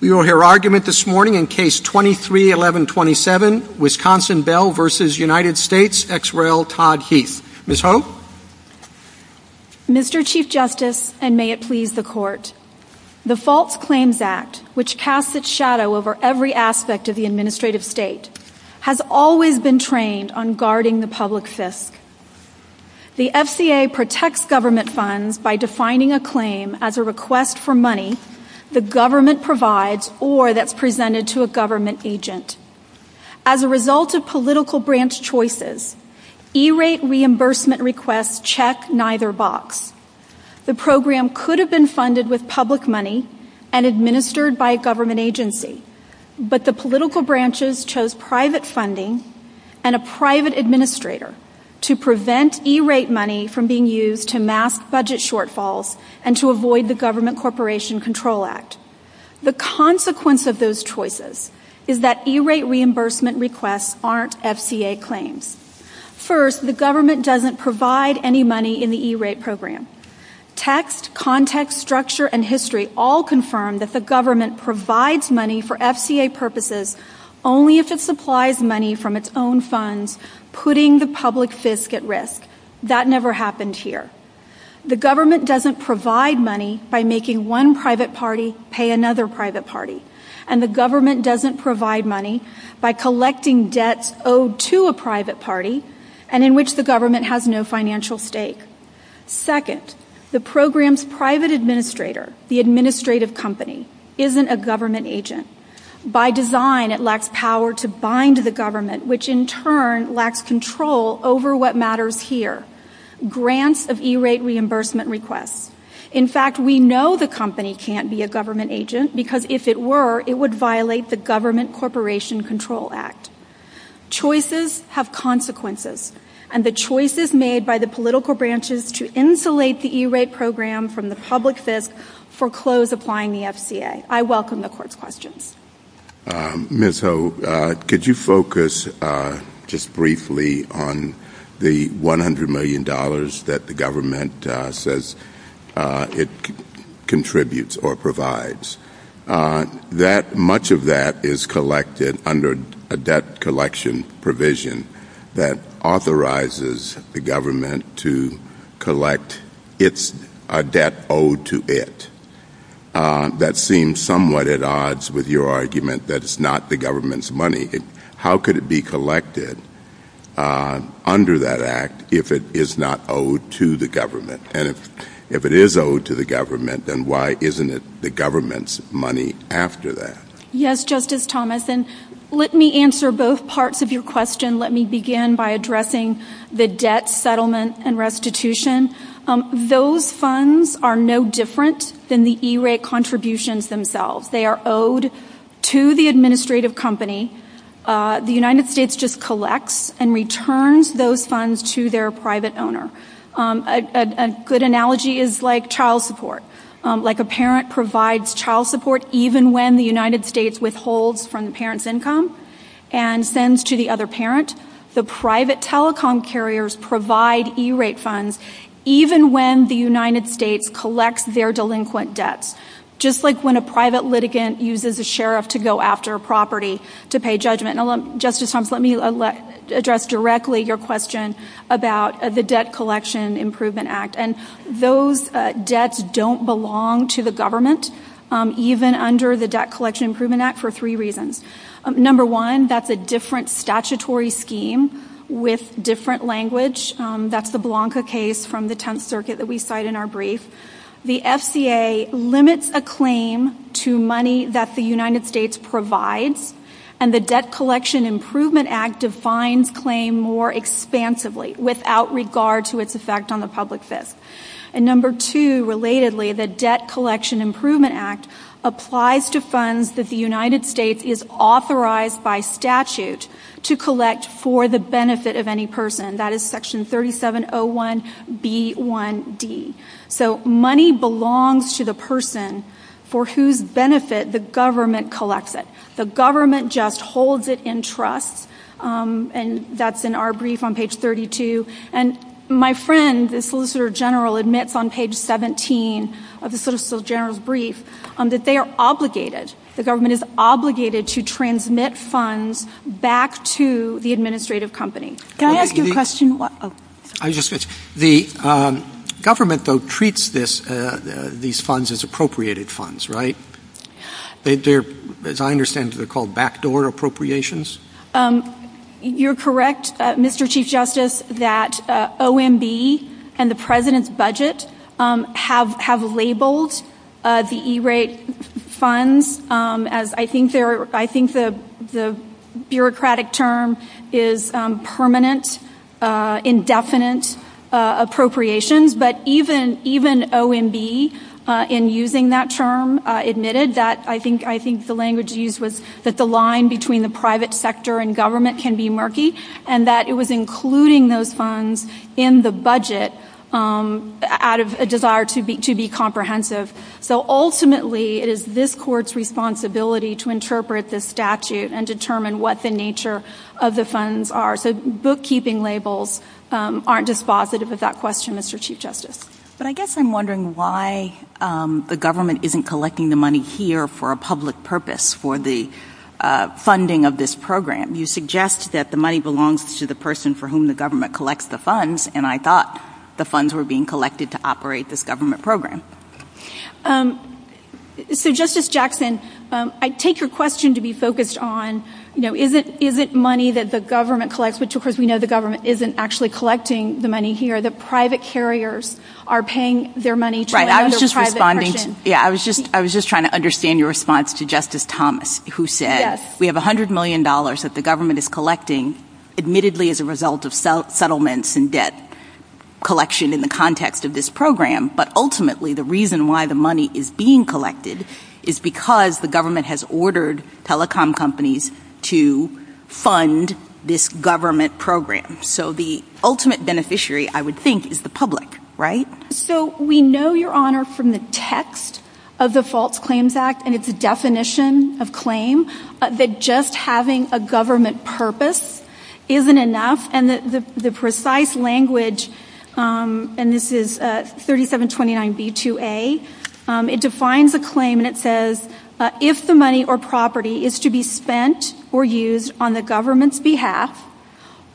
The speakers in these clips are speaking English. Mr. Chief Justice, and may it please the Court, the False Claims Act, which casts its shadow over every aspect of the administrative state, has always been trained on guarding the public fisc. The FCA protects government funds by defining a claim as a request for money the government provides or that's presented to a government agent. As a result of political branch choices, E-rate reimbursement requests check neither box. The program could have been funded with public money and administered by a government agency, but the political branches chose private funding and a private administrator to prevent E-rate money from being used to mask budget shortfalls and to avoid the Government Corporation Control Act. The consequence of those choices is that E-rate reimbursement requests aren't FCA claims. First, the government doesn't provide any money in the E-rate program. Text, context, structure, and history all confirm that the government provides money for FCA purposes only if it supplies money from its own funds, putting the public fisc at risk. That never happened here. The government doesn't provide money by making one private party pay another private party, and the government doesn't provide money by collecting debts owed to a private party and in which the government has no financial stake. Second, the program's private administrator, the administrative company, isn't a government agent. By design, it lacks power to bind the government, which in turn lacks control over what matters here. Grants of E-rate reimbursement requests. In fact, we know the company can't be a government agent because if it were, it would violate the Government Corporation Control Act. Choices have consequences, and the choices made by the political branches to insulate the E-rate program from the public fisc foreclose applying the FCA. I welcome the court's questions. Ms. Hogue, could you focus just briefly on the $100 million that the government says it contributes or provides? Much of that is collected under a debt collection provision that authorizes the government to collect a debt owed to it. That seems somewhat at odds with your argument that it's not the government's money. How could it be collected under that act if it is not owed to the government? And if it is owed to the government, then why isn't it the government's money after that? Yes, Justice Thomas, and let me answer both parts of your question. Let me begin by addressing the debt settlement and restitution. Those funds are no different than the E-rate contributions themselves. They are owed to the administrative company. The United States just collects and returns those funds to their private owner. A good analogy is like child support. Like a parent provides child support even when the United States withholds from the parent's income and sends to the other parent. The private telecom carriers provide E-rate funds even when the United States collects their delinquent debts, just like when a private litigant uses a sheriff to go after a property to pay judgment. Justice Thomas, let me address directly your question about the Debt Collection Improvement Those debts don't belong to the government, even under the Debt Collection Improvement Act, for three reasons. Number one, that's a different statutory scheme with different language. That's the Blanca case from the Tenth Circuit that we cite in our brief. The FCA limits a claim to money that the United States provides, and the Debt Collection Improvement Act defines claim more expansively without regard to its effect on the public's debt. Number two, relatedly, the Debt Collection Improvement Act applies to funds that the United States is authorized by statute to collect for the benefit of any person. That is section 3701B1D. So money belongs to the person for whose benefit the government collects it. The government just holds it in trust, and that's in our brief on page 32. And my friend, the Solicitor General, admits on page 17 of the Solicitor General's brief that they are obligated. The government is obligated to transmit funds back to the administrative company. Can I ask you a question? The government, though, treats these funds as appropriated funds, right? As I understand, they're called backdoor appropriations? You're correct, Mr. Chief Justice, that OMB and the President's budget have labeled the E-rate funds as, I think the bureaucratic term is permanent, indefinite appropriations. But even OMB, in using that term, admitted that, I think the language used was that the line between the private sector and government can be murky, and that it was including those funds in the budget out of a desire to be comprehensive. So ultimately, it is this court's responsibility to interpret this statute and determine what the nature of the funds are. So bookkeeping labels aren't dispositive of that question, Mr. Chief Justice. But I guess I'm wondering why the government isn't collecting the money here for a public purpose, for the funding of this program. You suggest that the money belongs to the person for whom the government collects the funds, and I thought the funds were being collected to operate this government program. So Justice Jackson, I take your question to be focused on, you know, is it money that the government collects, which of course we know the government isn't actually collecting the money here, that private carriers are paying their money to private persons? Right, I was just responding, yeah, I was just trying to understand your response to Justice Thomas, who said, we have $100 million that the government is collecting, admittedly as a result of settlements and debt collection in the context of this program, but ultimately the reason why the money is being collected is because the government has ordered telecom companies to fund this government program. So the ultimate beneficiary, I would think, is the public, right? So we know, Your Honor, from the text of the False Claims Act, and it's a definition of claim, that just having a government purpose isn't enough, and the precise language, and this is 3729b2a, it defines a claim and it says, if the money or property is to be spent or used on the government's behalf,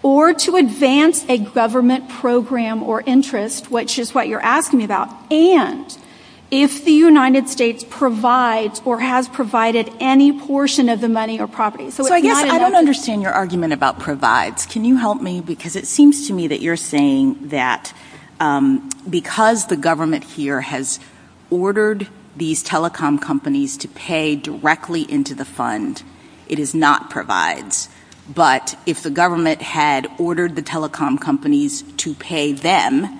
or to advance a government program or interest, which is what you're asking me about, and if the United States provides or has provided any portion of the money or property. So I guess I don't understand your argument about provides. Can you help me? Because it seems to me that you're saying that because the government here has ordered these telecom companies to pay directly into the fund, it is not provides, but if the government had ordered the telecom companies to pay them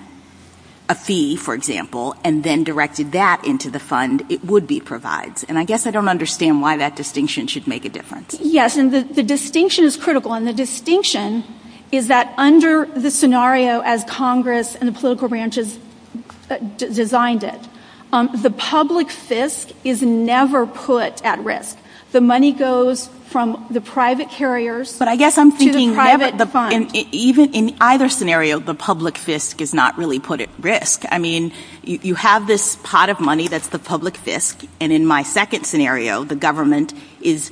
a fee, for example, and then directed that into the fund, it would be provides, and I guess I don't understand why that distinction should make a difference. Yes, and the distinction is critical, and the distinction is that under the scenario as Congress and the political branches designed it, the public fisc is never put at risk. The money goes from the private carriers, but I guess I'm thinking never the funds. Even in either scenario, the public fisc is not really put at risk. I mean, you have this pot of money that's the public fisc, and in my second scenario, the government is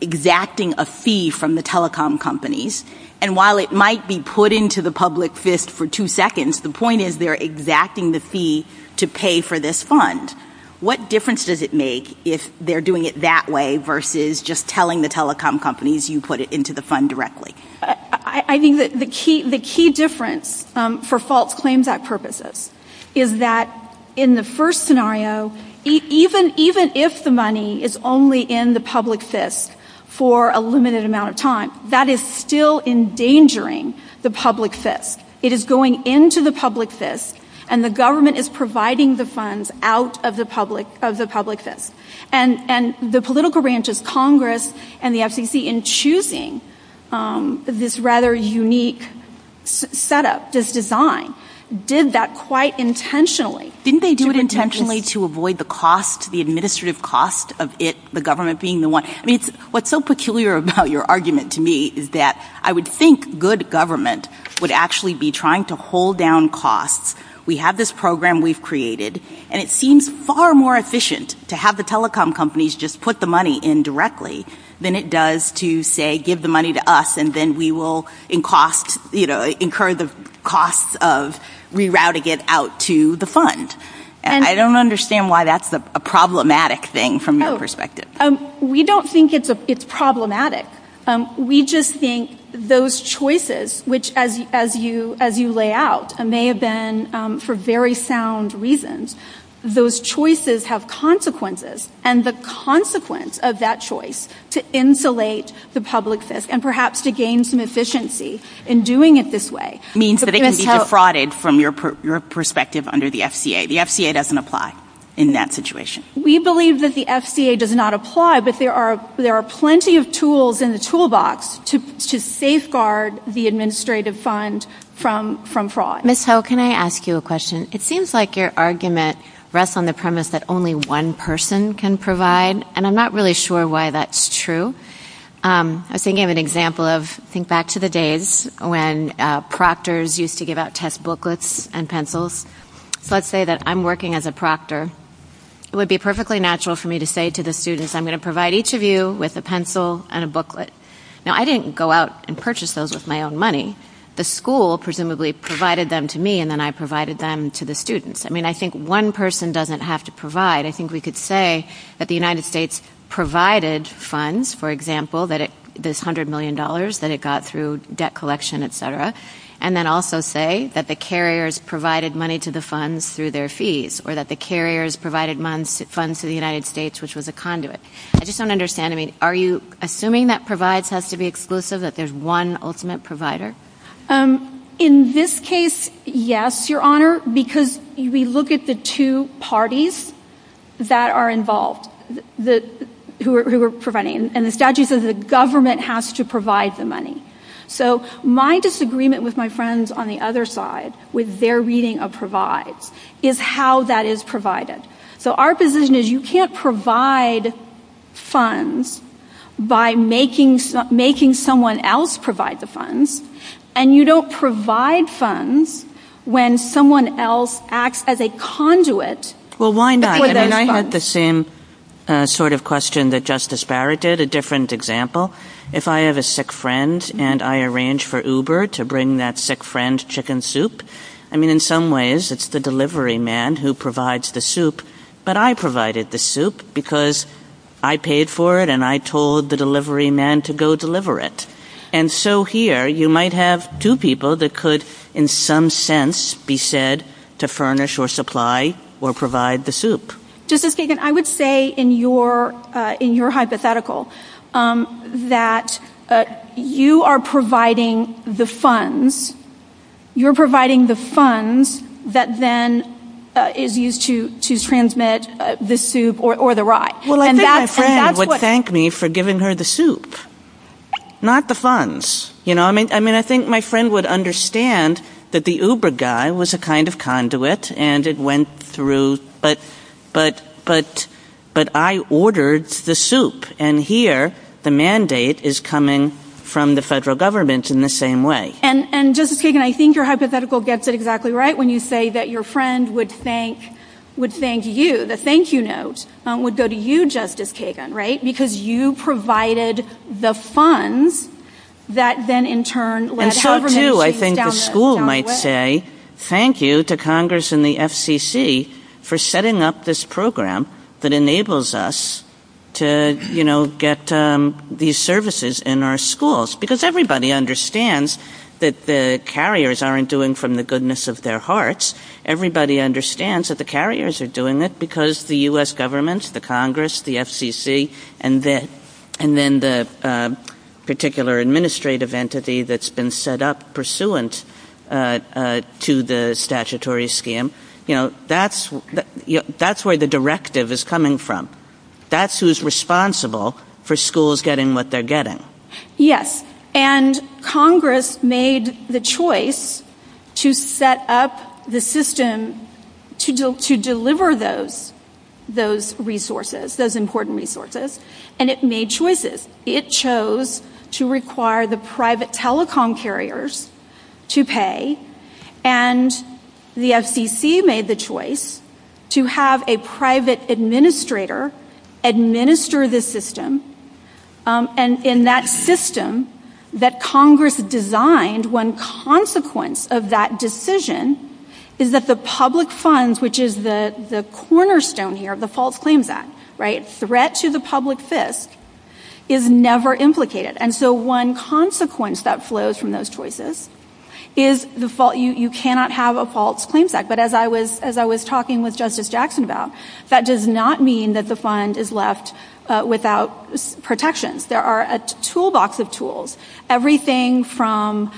exacting a fee from the telecom companies, and while it might be put into the public fisc for two seconds, the point is they're exacting the fee to pay for this fund. What difference does it make if they're doing it that way versus just telling the telecom companies you put it into the fund directly? I think that the key difference for false claims purposes is that in the first scenario, even if the money is only in the public fisc for a limited amount of time, that is still endangering the public fisc. It is going into the public fisc, and the government is providing the funds out of the public fisc, and the political branches, Congress and the FCC, in choosing this rather unique setup, this design, did that quite intentionally. Didn't they do it intentionally to avoid the cost, the administrative cost of it, the government being the one? I mean, what's so peculiar about your argument to me is that I would think good government would actually be trying to hold down costs. We have this program we've created, and it seems far more efficient to have the telecom companies just put the money in directly than it does to, say, give the money to us, and then we will incur the cost of rerouting it out to the fund. I don't understand why that's a problematic thing from your perspective. We don't think it's problematic. We just think those choices, which as you lay out, may have been for very sound reasons, those choices have consequences, and the consequence of that choice to insulate the public fisc and perhaps to gain some efficiency in doing it this way. It means that it can be defrauded from your perspective under the FCA. The FCA doesn't apply in that situation. We believe that the FCA does not apply, but there are plenty of tools in the toolbox to safeguard the administrative fund from fraud. Ms. Ho, can I ask you a question? It seems like your argument rests on the premise that only one person can provide, and I'm not really sure why that's true. I think of an example of, I think back to the days when proctors used to give out test booklets and pencils, so let's say that I'm working as a proctor. It would be perfectly natural for me to say to the students, I'm going to provide each of you with a pencil and a booklet. Now, I didn't go out and purchase those with my own money. The school presumably provided them to me, and then I provided them to the students. I mean, I think one person doesn't have to provide. I think we could say that the United States provided funds, for example, this $100 million that it got through debt collection, et cetera, and then also say that the carriers provided money to the funds through their fees, or that the carriers provided funds to the United States, which was a conduit. I just don't understand. Are you assuming that provides has to be exclusive, that there's one ultimate provider? In this case, yes, Your Honor, because we look at the two parties that are involved who are providing, and the statute says the government has to provide the money. So my disagreement with my friends on the other side, with their reading of provides, is how that is provided. So our position is you can't provide funds by making someone else provide the funds. And you don't provide funds when someone else acts as a conduit. Well, why not? I had the same sort of question that Justice Barrett did, a different example. If I have a sick friend and I arrange for Uber to bring that sick friend chicken soup, I mean, in some ways it's the delivery man who provides the soup, but I provided the soup because I paid for it and I told the delivery man to go deliver it. And so here you might have two people that could in some sense be said to furnish or supply or provide the soup. Justice Kagan, I would say in your hypothetical that you are providing the funds. You're providing the funds that then is used to transmit the soup or the rice. And my friend would thank me for giving her the soup, not the funds. I mean, I think my friend would understand that the Uber guy was a kind of conduit and it went through, but I ordered the soup. And here the mandate is coming from the federal government in the same way. And Justice Kagan, I think your hypothetical gets it exactly right when you say that your friend would thank you. The thank you note would go to you, Justice Kagan, right? Because you provided the funds that then in turn led however many things down the road. And so too I think the school might say thank you to Congress and the FCC for setting up this program that enables us to get these services in our schools. Because everybody understands that the carriers aren't doing it from the goodness of their hearts. Everybody understands that the carriers are doing it because the U.S. government, the Congress, the FCC, and then the particular administrative entity that's been set up pursuant to the statutory scheme. That's where the directive is coming from. That's who's responsible for schools getting what they're getting. Yes. And Congress made the choice to set up the system to deliver those resources, those important resources, and it made choices. It chose to require the private telecom carriers to pay, and the FCC made the choice to have a private administrator administer the system. And in that system that Congress designed, one consequence of that decision is that the public funds, which is the cornerstone here, the False Claims Act, right? Threat to the public's fist is never implicated. And so one consequence that flows from those choices is you cannot have a False Claims Act. But as I was talking with Justice Jackson about, that does not mean that the fund is left without protection. There are a toolbox of tools, everything from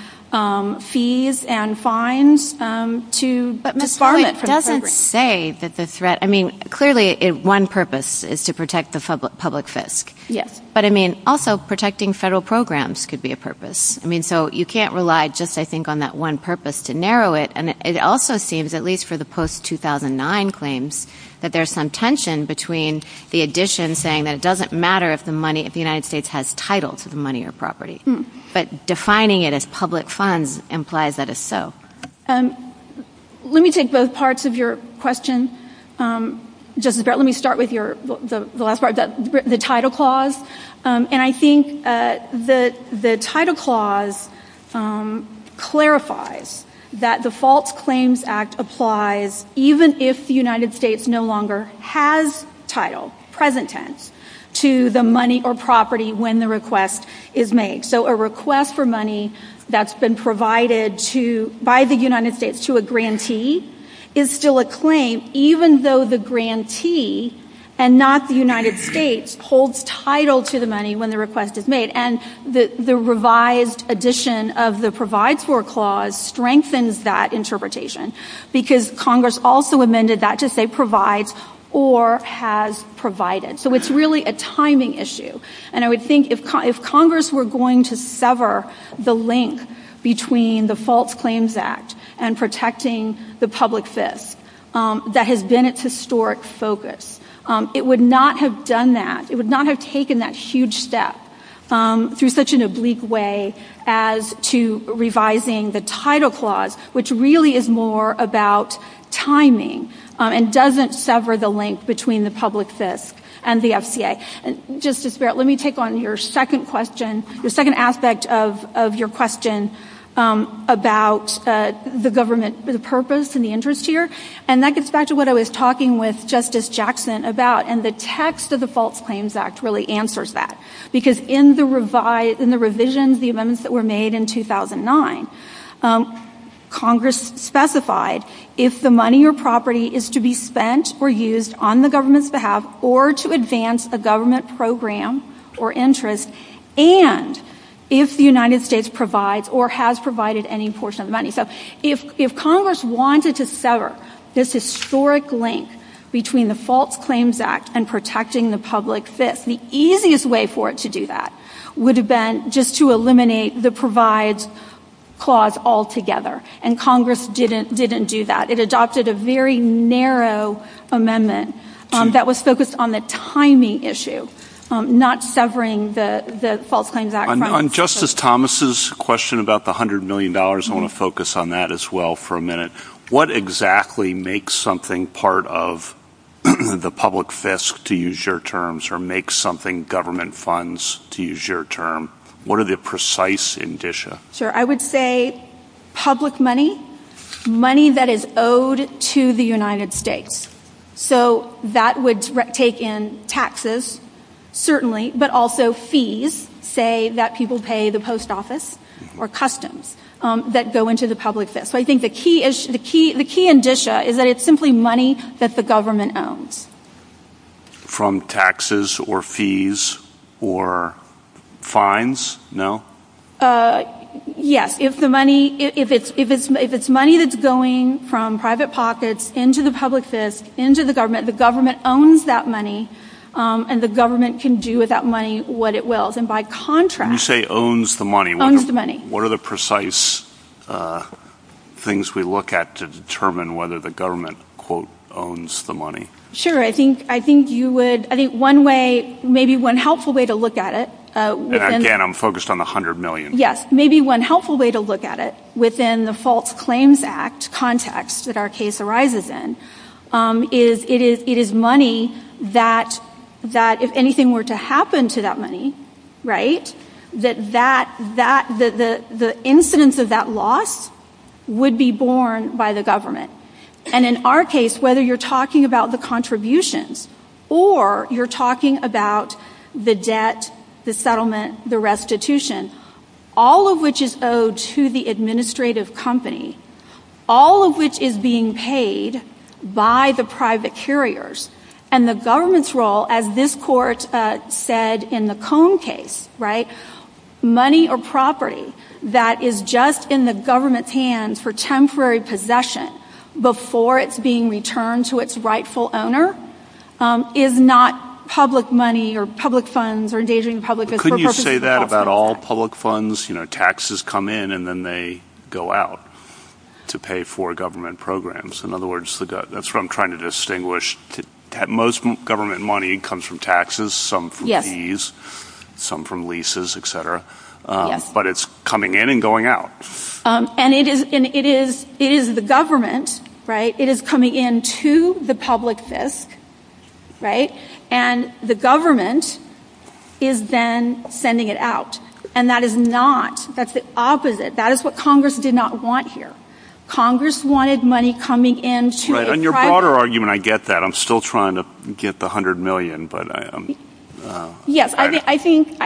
fees and fines to... But Ms. Joyce doesn't say that the threat... I mean, clearly one purpose is to protect the public's fist. Yes. But I mean, also protecting federal programs could be a purpose. I mean, so you can't rely just, I think, on that one purpose to narrow it. And it also seems, at least for the post-2009 claims, that there's some tension between the addition saying that it doesn't matter if the money, if the United States has title to the money or property. But defining it as public funds implies that it's so. Let me take both parts of your question. Justice Brett, let me start with the last part, the title clause. And I think the title clause clarifies that the False Claims Act applies even if the United States no longer has title, present tense, to the money or property when the request is made. So a request for money that's been provided by the United States to a grantee is still a claim even though the grantee and not the United States holds title to the money when the request is made. And the revised addition of the provide for clause strengthens that interpretation because Congress also amended that to say provides or has provided. So it's really a timing issue. And I would think if Congress were going to sever the link between the False Claims Act and protecting the public's fist, that has been its historic focus. It would not have done that. It would not have taken that huge step through such an oblique way as to revising the title clause, which really is more about timing and doesn't sever the link between the public's fist and the FCA. Justice Brett, let me take on your second question, the second aspect of your question about the government, the purpose and the interest here, and that gets back to what I was talking with Justice Jackson about and the text of the False Claims Act really answers that because in the revisions, the amendments that were made in 2009, Congress specified if the money or property is to be spent or used on the government's behalf or to advance a government program or interest and if the United States provides or has provided any portion of the money. If Congress wanted to sever this historic link between the False Claims Act and protecting the public's fist, the easiest way for it to do that would have been just to eliminate the provides clause altogether and Congress didn't do that. It adopted a very narrow amendment that was focused on the timing issue, not severing the False Claims Act. On Justice Thomas' question about the $100 million, I want to focus on that as well for a minute. What exactly makes something part of the public fist to use your terms or makes something government funds to use your term? What are the precise indicia? I would say public money, money that is owed to the United States. That would take in taxes, certainly, but also fees, say that people pay the post office or customs that go into the public fist. I think the key indicia is that it's simply money that the government owns. From taxes or fees or fines? No? Yes, if it's money that's going from private pockets into the public fist, into the government, the government owns that money and the government can do with that money what it wills. And by contrast... When you say owns the money... Owns the money. What are the precise things we look at to determine whether the government, quote, owns the money? Sure, I think you would... I think one way, maybe one helpful way to look at it... Again, I'm focused on the $100 million. Yes, maybe one helpful way to look at it within the False Claims Act context that our case arises in is it is money that if anything were to happen to that money, right, that the incidence of that loss would be borne by the government. And in our case, whether you're talking about the contributions or you're talking about the debt, the settlement, the restitution, all of which is owed to the administrative company, all of which is being paid by the private carriers and the government's role, as this court said in the Cone case, right, money or property that is just in the government's hands for temporary possession before it's being returned to its rightful owner is not public money or public funds or engaging in public... Couldn't you say that about all public funds? You know, taxes come in and then they go out to pay for government programs. In other words, that's what I'm trying to distinguish. Most government money comes from taxes, some from fees, some from leases, etc. Yes. But it's coming in and going out. And it is the government, right, it is coming in to the public fisc, right, and the government is then sending it out. And that is not... That's the opposite. That is what Congress did not want here. Congress wanted money coming in to a private... Right, and your broader argument, I get that. I'm still trying to get the $100 million, but... Yes, I think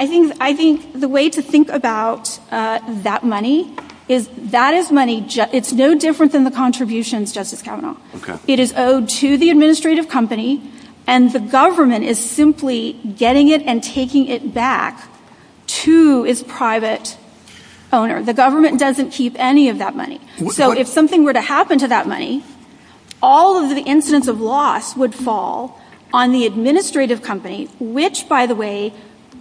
the way to think about that money is that is money... It's no different than the contributions, Justice Kavanaugh. It is owed to the administrative company and the government is simply getting it and taking it back to its private owner. The government doesn't keep any of that money. So if something were to happen to that money, all of the incidents of loss would fall on the administrative company, which, by the way,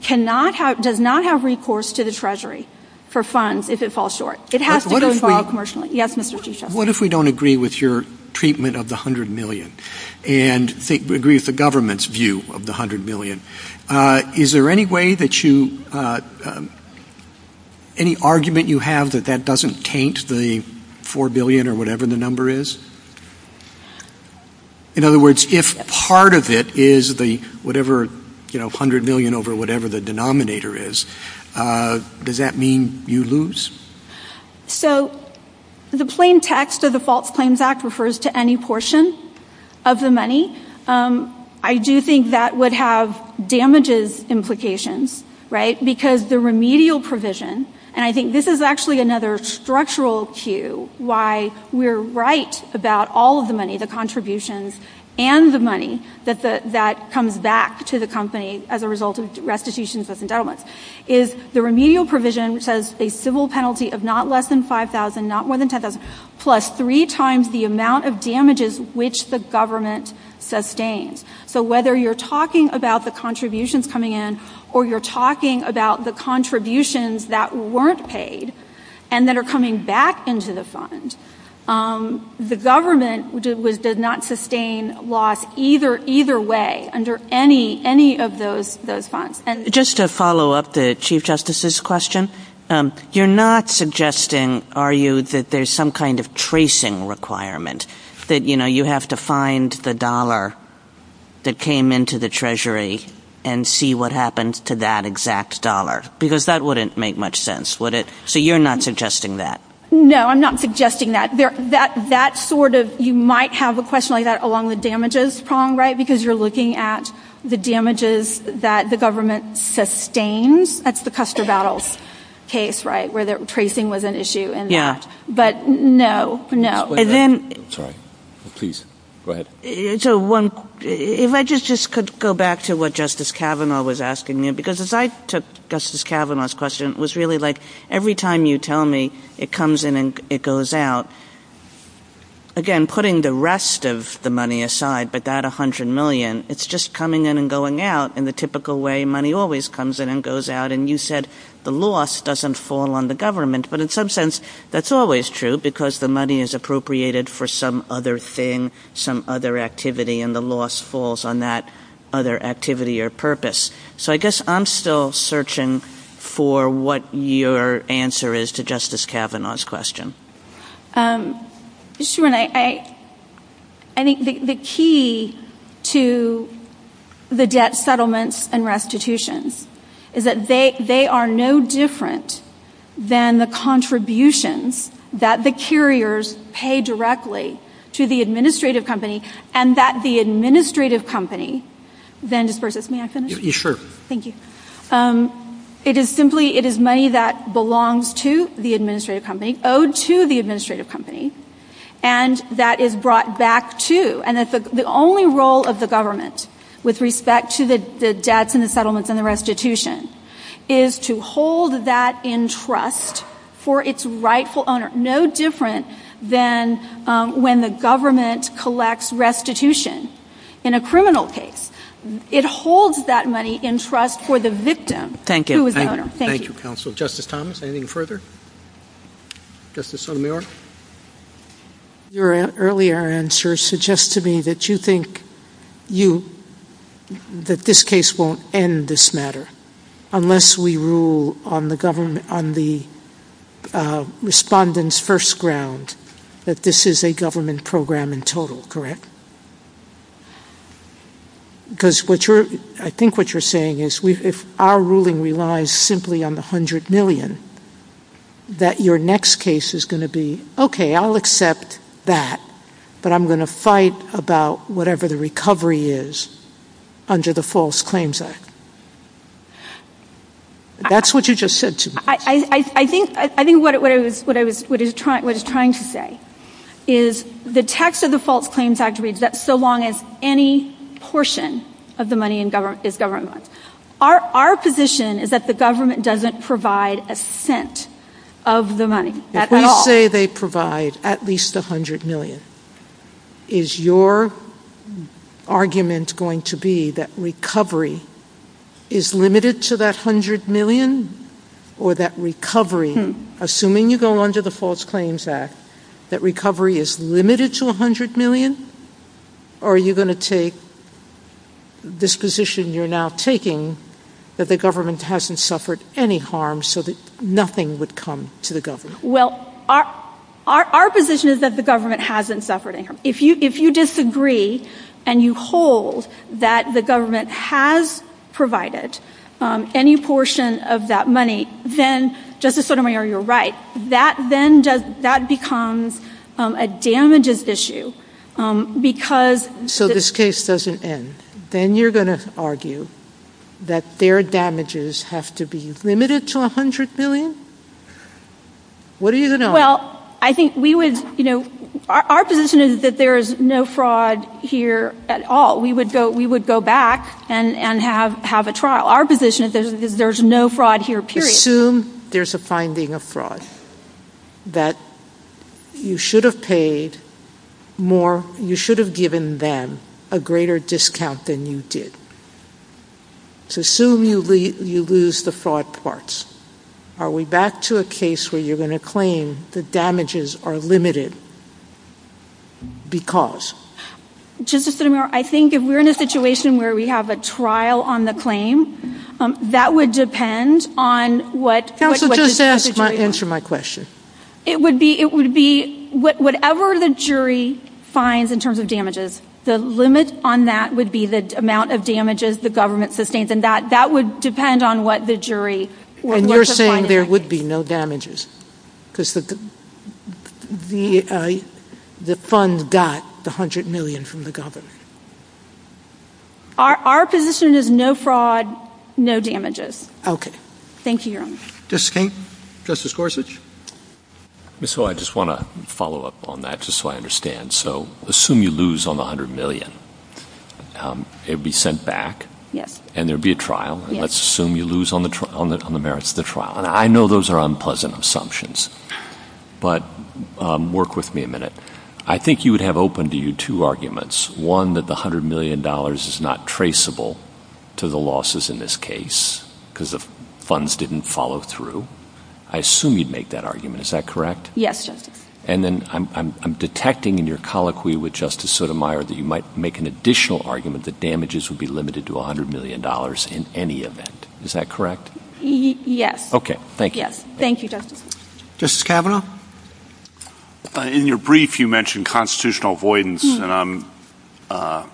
does not have recourse to the Treasury for funds if it falls short. It has to fall commercially. Yes, Mr. Tisha. What if we don't agree with your treatment of the $100 million and agree with the government's view of the $100 million? Is there any way that you... Any argument you have that that doesn't taint the $4 billion or whatever the number is? In other words, if part of it is the whatever, you know, $100 million over whatever the denominator is, does that mean you lose? So the plain text of the False Claims Act refers to any portion of the money. I do think that would have damages implications, right? Because the remedial provision, and I think this is actually another structural cue why we're right about all of the money, the contributions and the money, that comes back to the company as a result of restitution and settlement, is the remedial provision says a civil penalty of not less than $5,000, not more than $10,000, plus three times the amount of damages which the government sustained. So whether you're talking about the contributions coming in or you're talking about the contributions that weren't paid and that are coming back into the fund, the government did not sustain loss either way under any of those funds. And... Just to follow up the Chief Justice's question, you're not suggesting, are you, that there's some kind of tracing requirement that, you know, you have to find the dollar that came into the Treasury and see what happened to that exact dollar? Because that wouldn't make much sense, would it? So you're not suggesting that? No, I'm not suggesting that. That sort of... You might have a question like that along the damages prong, right, because you're looking at the damages that the government sustains. That's the Custer Battles case, right, where the tracing was an issue in that. But no, no. And then... Sorry. Please, go ahead. So one... If I just could go back to what Justice Kavanaugh was asking me, because as I took Justice Kavanaugh's question, it was really like every time you tell me it comes in and it goes out, again, putting the rest of the money aside, but that $100 million, it's just coming in and going out in the typical way money always comes in and goes out. And you said the loss doesn't fall on the government. But in some sense, that's always true because the money is appropriated for some other thing, some other activity, and the loss falls on that other activity or purpose. So I guess I'm still searching for what your answer is to Justice Kavanaugh's question. Um... ...to the debt settlements and restitution is that they are no different than the contributions that the carriers pay directly to the administrative company and that the administrative company... May I say my question? Yeah, sure. Thank you. It is simply... It is money that belongs to the administrative company, owed to the administrative company, and that is brought back to... The only role of the government with respect to the debts and the settlements and the restitution is to hold that in trust for its rightful owner, no different than when the government collects restitution in a criminal case. It holds that money in trust for the victim who is the owner. Thank you, Counsel. Justice Thomas, anything further? Justice Sotomayor? Your earlier answer suggests to me that you think you... that this case won't end this matter unless we rule on the government... on the respondent's first ground that this is a government program in total, correct? Because what you're... I think what you're saying is if our ruling relies simply on the $100 million, that your next case is going to be okay, I'll accept that, but I'm going to fight about whatever the recovery is under the False Claims Act. That's what you just said to me. I think what I was trying to say is the text of the False Claims Act is that so long as any portion of the money is government, our position is that the government doesn't provide a cent of the money at all. If we say they provide at least $100 million, is your argument going to be that recovery is limited to that $100 million or that recovery, assuming you go under the False Claims Act, that recovery is limited to $100 million, or are you going to take this position you're now taking that the government hasn't suffered any harm so that nothing would come to the government? Well, our position is that the government hasn't suffered any harm. If you disagree and you hold that the government has provided any portion of that money, then, Justice Sotomayor, you're right, that becomes a damages issue because... So this case doesn't end. Then you're going to argue that their damages have to be limited to $100 million? What are you going to argue? Well, I think we would, you know, our position is that there is no fraud here at all. We would go back and have a trial. Our position is that there's no fraud here, period. Assume there's a finding of fraud, that you should have paid more, you should have given them a greater discount than you did. So assume you lose the fraud parts. Are we back to a case where you're going to claim the damages are limited because? Justice Sotomayor, I think if we're in a situation where we have a trial on the claim, that would depend on what... Counsel, just answer my question. It would be... Whatever the jury finds in terms of damages, the limit on that would be the amount of damages the government sustains, and that would depend on what the jury... And you're saying there would be no damages because the fund got the $100 million from the government. Our position is no fraud, no damages. Okay. Thank you, Your Honor. Justice King? Justice Gorsuch? So I just want to follow up on that just so I understand. So assume you lose on the $100 million. It would be sent back, and there would be a trial. Let's assume you lose on the merits of the trial. And I know those are unpleasant assumptions, but work with me a minute. I think you would have open to you two arguments. One, that the $100 million is not traceable to the losses in this case because the funds didn't follow through. I assume you'd make that argument. Is that correct? Yes, Justice. And then I'm detecting in your colloquy with Justice Sotomayor that you might make an additional argument that damages would be limited to $100 million in any event. Is that correct? Yes. Okay. Thank you. Thank you, Justice. Justice Kavanaugh? In your brief, you mentioned constitutional avoidance, and I'm, I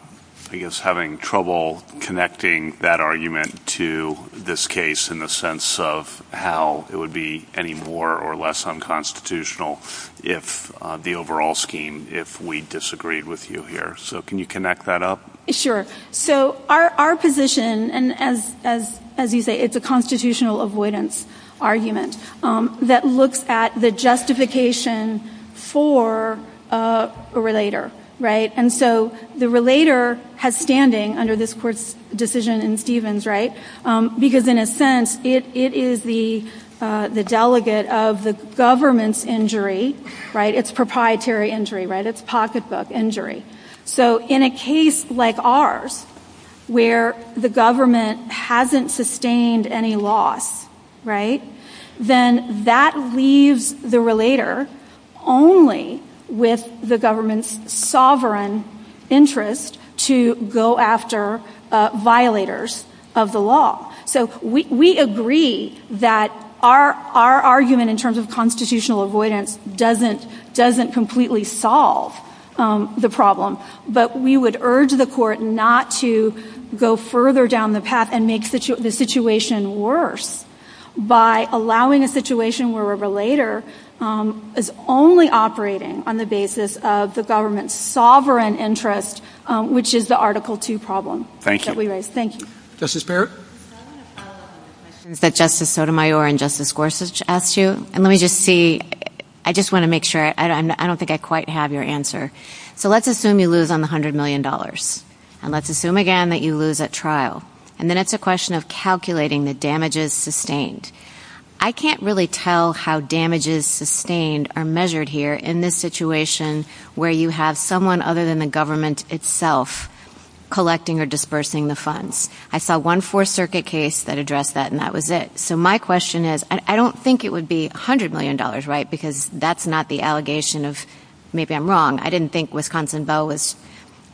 guess, having trouble connecting that argument to this case in the sense of how it would be any more or less unconstitutional if the overall scheme, if we disagreed with you here. So can you connect that up? Sure. So our position, and as you say, it's a constitutional avoidance argument that looks at the justification for a relator, right? And so the relator has standing under this court's decision in Stevens, right? Because in a sense, it is the delegate of the government's injury, right? It's proprietary injury, right? It's pocketbook injury. So in a case like ours, where the government hasn't sustained any loss, right? Then that leaves the relator only with the government's sovereign interest to go after violators of the law. So we agree that our argument in terms of constitutional avoidance doesn't completely solve the problem. But we would urge the court not to go further down the path and make the situation worse by allowing a situation where a relator is only operating on the basis of the government's sovereign interest, which is the Article II problem. Thank you. Thank you. Justice Barrett? Is that Justice Sotomayor and Justice Gorsuch asked you? Let me just see. I just want to make sure. I don't think I quite have your answer. So let's assume you lose on the $100 million. And let's assume again that you lose at trial. And then it's a question of calculating the damages sustained. I can't really tell how damages sustained are measured here in this situation where you have someone other than the government itself collecting or dispersing the funds. I saw one Fourth Circuit case that addressed that, and that was it. So my question is, I don't think it would be $100 million, right? Because that's not the allegation of maybe I'm wrong. I didn't think Wisconsin Bell was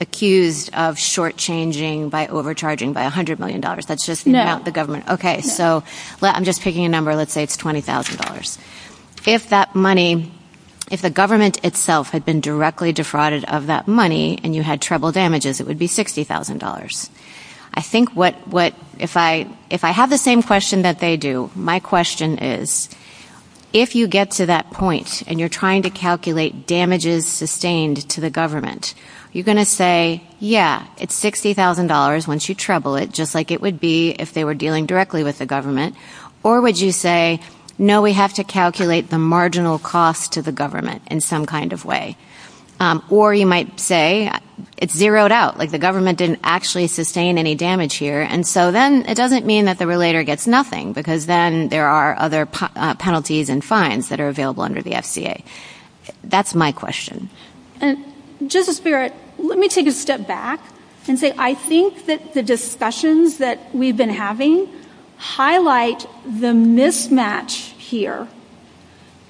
accused of shortchanging by overcharging by $100 million. That's just not the government. So I'm just picking a number. Let's say it's $20,000. If that money, if the government itself had been directly defrauded of that money and you had treble damages, it would be $60,000. I think what, if I have the same question that they do, my question is, if you get to that point and you're trying to calculate damages sustained to the government, you're going to say, yeah, it's $60,000 once you treble it, just like it would be if they were dealing directly with the government. Or would you say, no, we have to calculate the marginal cost to the government in some kind of way. Or you might say it's zeroed out, like the government didn't actually sustain any damage here. And so then it doesn't mean that the relator gets nothing because then there are other penalties and fines that are available under the FDA. That's my question. And just a spirit, let me take a step back and say, I think that the discussions that we've been having highlight the mismatch here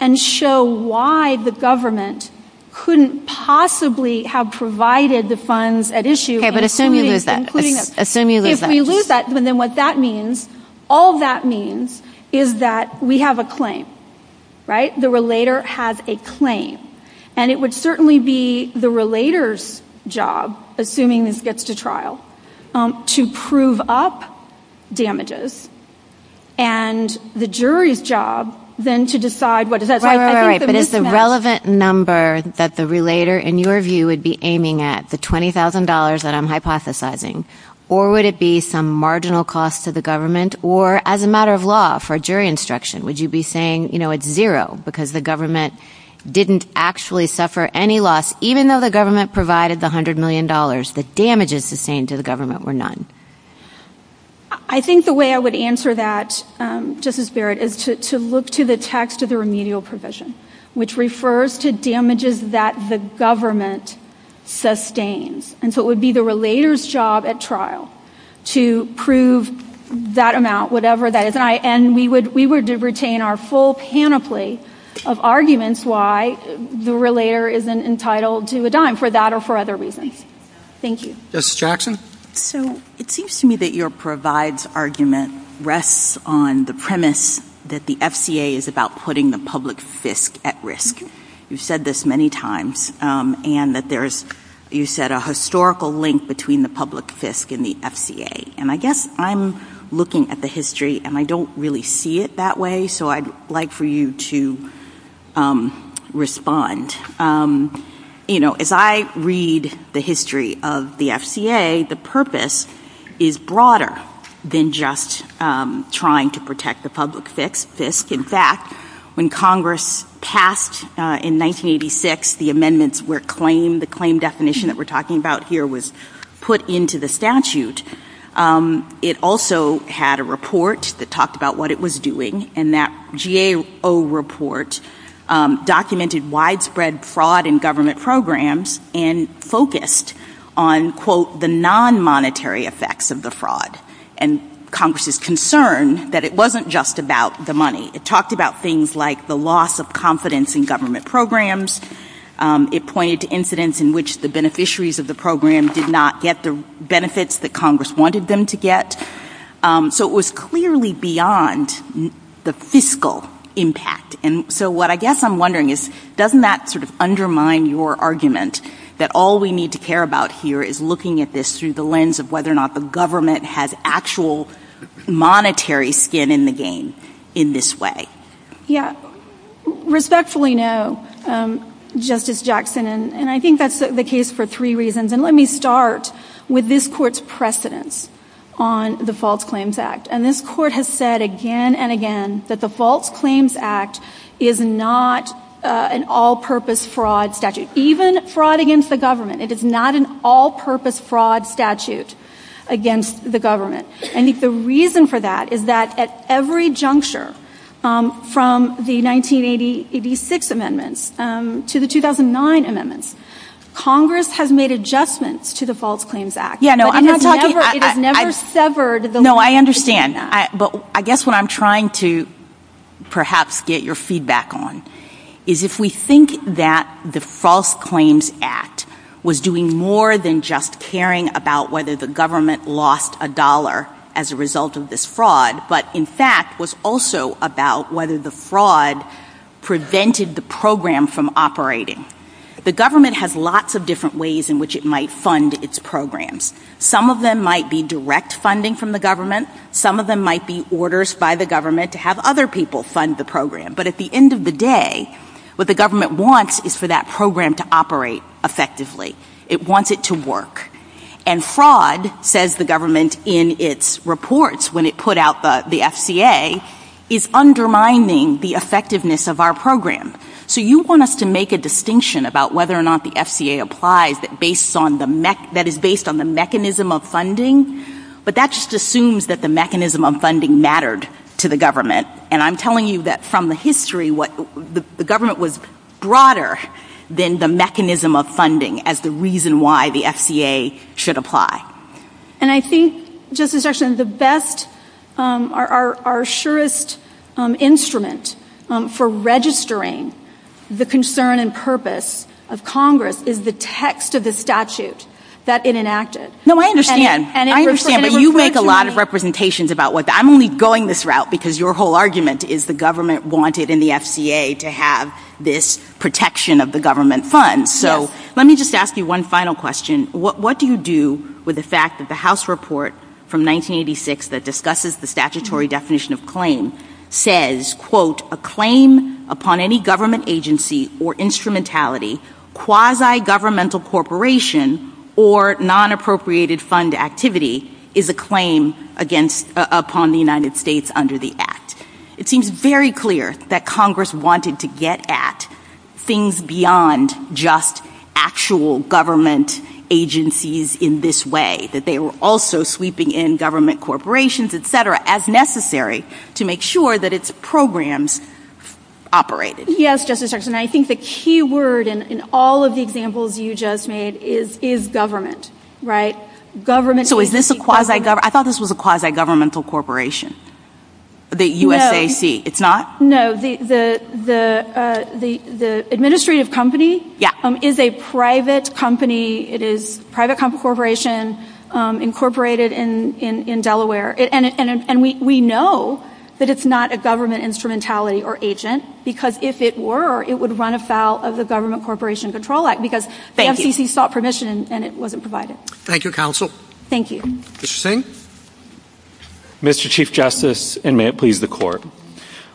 and show why the government couldn't possibly have provided the funds at issue. Okay, but assume you lose that. Assume you lose that. If we lose that, then what that means, all that means is that we have a claim, right? The relator has a claim and it would certainly be the relator's job, assuming this gets to trial, to prove up damages and the jury's job then to decide what does that say. Right, right, right. But it's a relevant number that the relator, in your view, would be aiming at, the $20,000 that I'm hypothesizing. Or would it be some marginal cost to the government or as a matter of law for jury instruction? Would you be saying, you know, it's zero because the government didn't actually suffer any loss even though the government provided the $100 million but damages sustained to the government were none? I think the way I would answer that, Justice Barrett, is to look to the text of the remedial provision, which refers to damages that the government sustains. And so it would be the relator's job at trial to prove that amount, whatever that is. And we would retain our full panoply of arguments why the relator isn't entitled to a dime for that or for other reasons. Thank you. Justice Jackson? So, it seems to me that your provides argument rests on the premise that the FCA is about putting the public fisc at risk. You've said this many times and that there's, you said, a historical link between the public fisc and the FCA. And I guess I'm looking at the history and I don't really see it that way. So I'd like for you to respond. You know, as I read the history of the FCA, the purpose is broader than just trying to protect the public fisc. In fact, when Congress passed in 1986 the amendments where claim, the claim definition that we're talking about here was put into the statute. It also had a report that talked about what it was doing and that GAO report documented widespread fraud in government programs and focused on, the non-monetary effects of the fraud. And Congress is concerned that it wasn't just about the money. It talked about things like the loss of confidence in government programs. It pointed to a time in which the beneficiaries of the program did not get the benefits that Congress wanted them to get. So it was clearly beyond the fiscal impact. And so what I guess I'm wondering is, doesn't that sort of your argument that all we need to care about here is looking at this through the lens of whether or not the government has actual monetary skin in the game in this way? Yeah. Respectfully know Justice Jackson, and I think that's the case for three reasons. And let me start with this court's precedent on the False Claims Act. And this court has said again and again that the False Claims Act is not an all-purpose fraud statute. Even fraud against the it is not an all-purpose fraud statute against the government. And the reason for that is that at every juncture from the 1986 amendments to the 2009 amendments, Congress has made adjustments to the piggyback on is if we think that the False Claims Act was doing more than just caring about whether the government lost a as a result of this fraud, but in fact was also about whether the fraud prevented the program from operating. The government has lots of different ways in which it might fund its programs. Some of them might be direct funding from the government. Some of them might be orders by the government to have other people to fund the program. But at the end of the day, what the government wants is for that program to operate effectively. It wants it to And fraud says the government in its reports when it put out the FCA, is undermining the effectiveness of our program. And I'm telling you that from the history, the government was broader than the mechanism of funding as the reason why the FCA should apply. The best instrument for registering the concern and purpose of Congress is the FCA. your whole argument is the government wanted in the FCA to have this of the government fund. So let me just ask you one final question. What do you do with the fact that the House report from 1986 that discusses the statutory definition of claim says a claim upon any government agency or instrumentality quasi governmental corporation or non-appropriated fund activity is a claim upon the United States under the It seems very clear that Congress wanted to have as necessary to make sure that its programs operated. I think the key word in all of the examples you just made is government. I thought this was a quasi governmental corporation. The administrative company is a government know that it's not a government instrumentality or agent because if it were it would run afoul of the government corporation control act. Thank you. Mr. Chief Justice and may it please the court.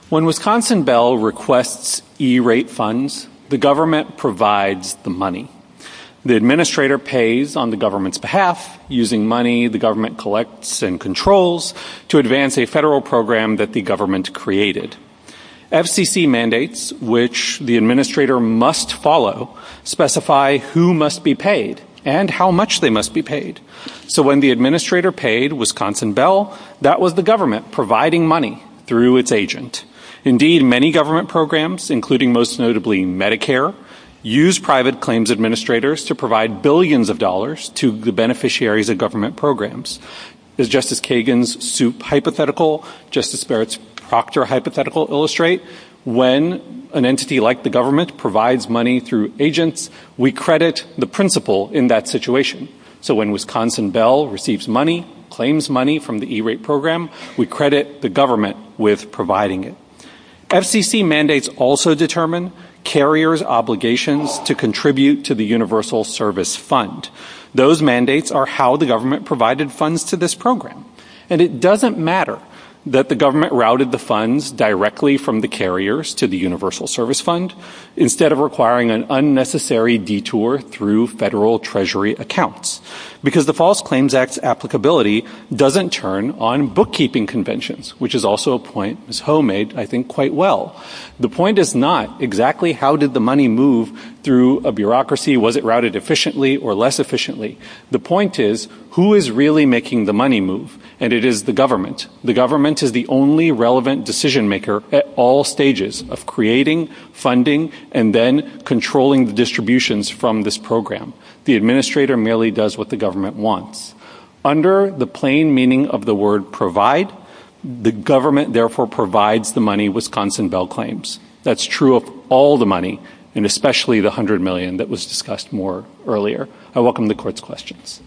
When Wisconsin Bell requests E-rate funds the government provides the money. The administrator pays on the government's using money the government collects and controls to advance a federal program that the government created. FCC mandates which the must follow specify who must be paid and how much they must be When the administrator paid Wisconsin Bell that was the government providing money. Many government programs use private claims administrators to provide billions of dollars to the beneficiaries of government programs. When an entity like the government provides money through agents we credit the principal in that situation. When Wisconsin Bell receives money we credit the government with providing it. FCC mandates also determine carriers obligations to contribute to the universal service fund. It doesn't matter that the government routed the directly from the carriers to the universal service fund instead of providing the directly The point is who is really making the money move and it is the government. government is the only relevant decision maker at all stages of creating funding and then controlling the all the and especially the $100 million that was discussed earlier. I welcome the court's questions.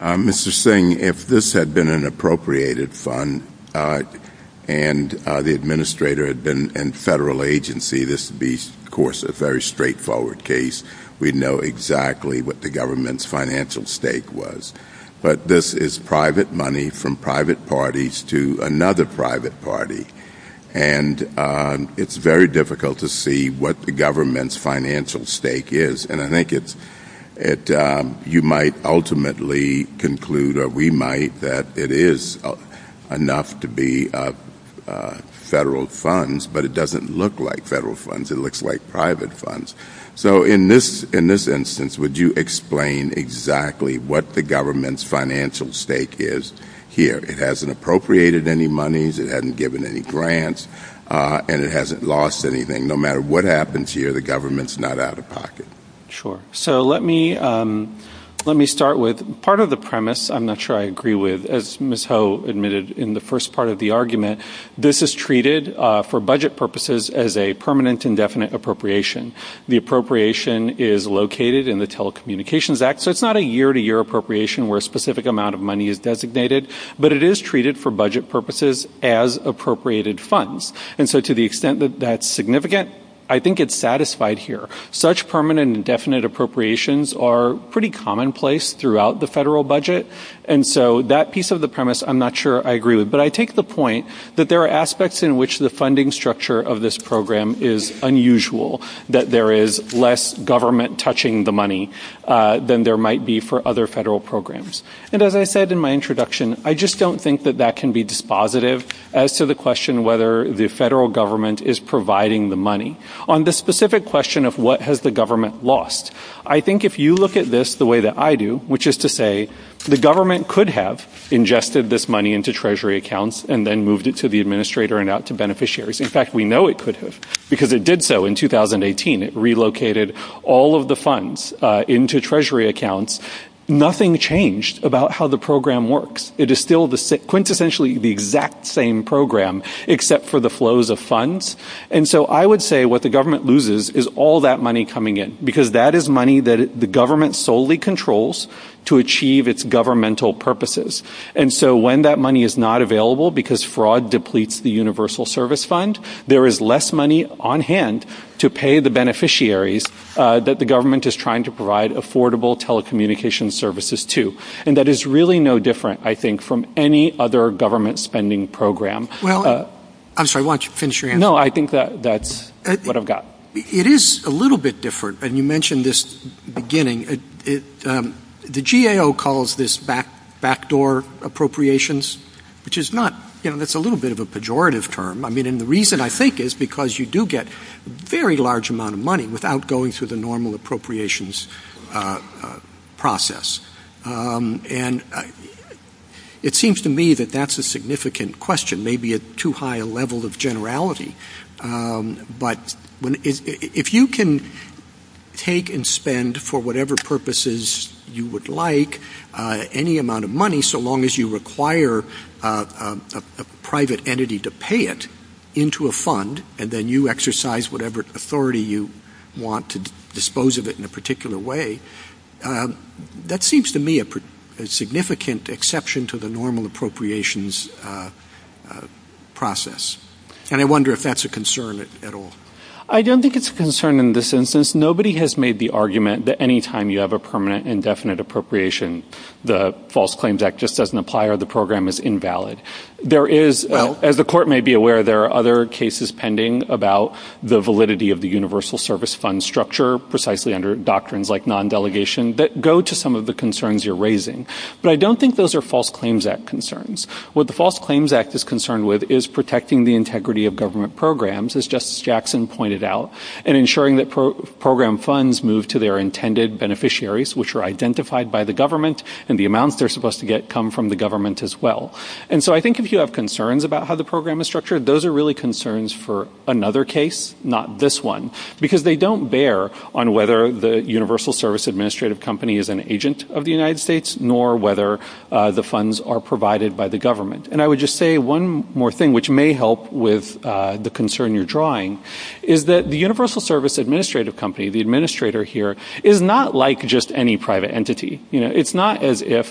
Mr. Singh, if this had been an appropriated fund and the administrator had been in federal agency this would be of course a very straightforward case. We know exactly what the government's financial stake was but this is private money from private parties to another private party and it's very difficult to see what the government's financial stake is and I think if you might ultimately conclude or we might that it is enough to be federal funds but it doesn't look like funds. It looks like private funds. So in this instance would you explain exactly what the government's financial stake is here? It hasn't appropriated any monies, it hasn't given any grants, and it hasn't lost anything. No matter what happens here the government's not out of pocket. Sure. So let me start with part of the I'm not sure I agree with, as Ms. Ho admitted in the first part of the argument, this is treated as a permanent appropriation. It's not a year-to-year appropriation where a specific amount is designated but it is treated as appropriated funds. I think it's satisfied here. Such permanent and definite appropriations are commonplace throughout the federal budget. I take the point that there are aspects in which the funding structure is unusual that there is less government touching the money than there might be for other federal programs. I don't think that can be dispositive as to the question whether the federal government is providing the money. On the specific question of what has the government lost, I think if you look at this the way I do, the government could have ingested this money into treasury accounts. Nothing changed about how the program works. It is the same program except for the flows of What the government loses is all that money coming in. That is money the government controls to achieve its governmental purposes. When that money is not available because fraud depletes the service fund, there is less money on hand to pay the beneficiaries that the government is trying to provide affordable telecommunications services to. That is no different from any other government spending program. I think that is what I mean. It is a little bit of a pejorative term. The reason I think is because you do get a large amount of money without going through the normal appropriations process. It seems to me that that is a significant question. Maybe a too high level of generality. If you can take and spend for whatever purposes you would like, any amount of money, so long as you require a private entity to pay it into a fund and then you exercise whatever authority you want to dispose of it in a particular way, that seems to me a significant exception to the normal appropriations process. I wonder if that is a concern at all. I don't think it is a concern in this instance. Nobody has made the argument that any time you have an indefinite appropriation, the program is invalid. As the court may be aware, there are other cases pending about the validity of the universal service fund as that go to some of the concerns you are raising, but I don't think those are claims act What the false claims act is concerned with is the integrity of government programs. If you have concerns about how the program is those are concerns for another case, not this one. They don't bear on whether the company is an agent of the United States or whether the funds are provided by the government. One more thing that may help with the concern you are drawing is that the administrator is not like any private entity. It is not as if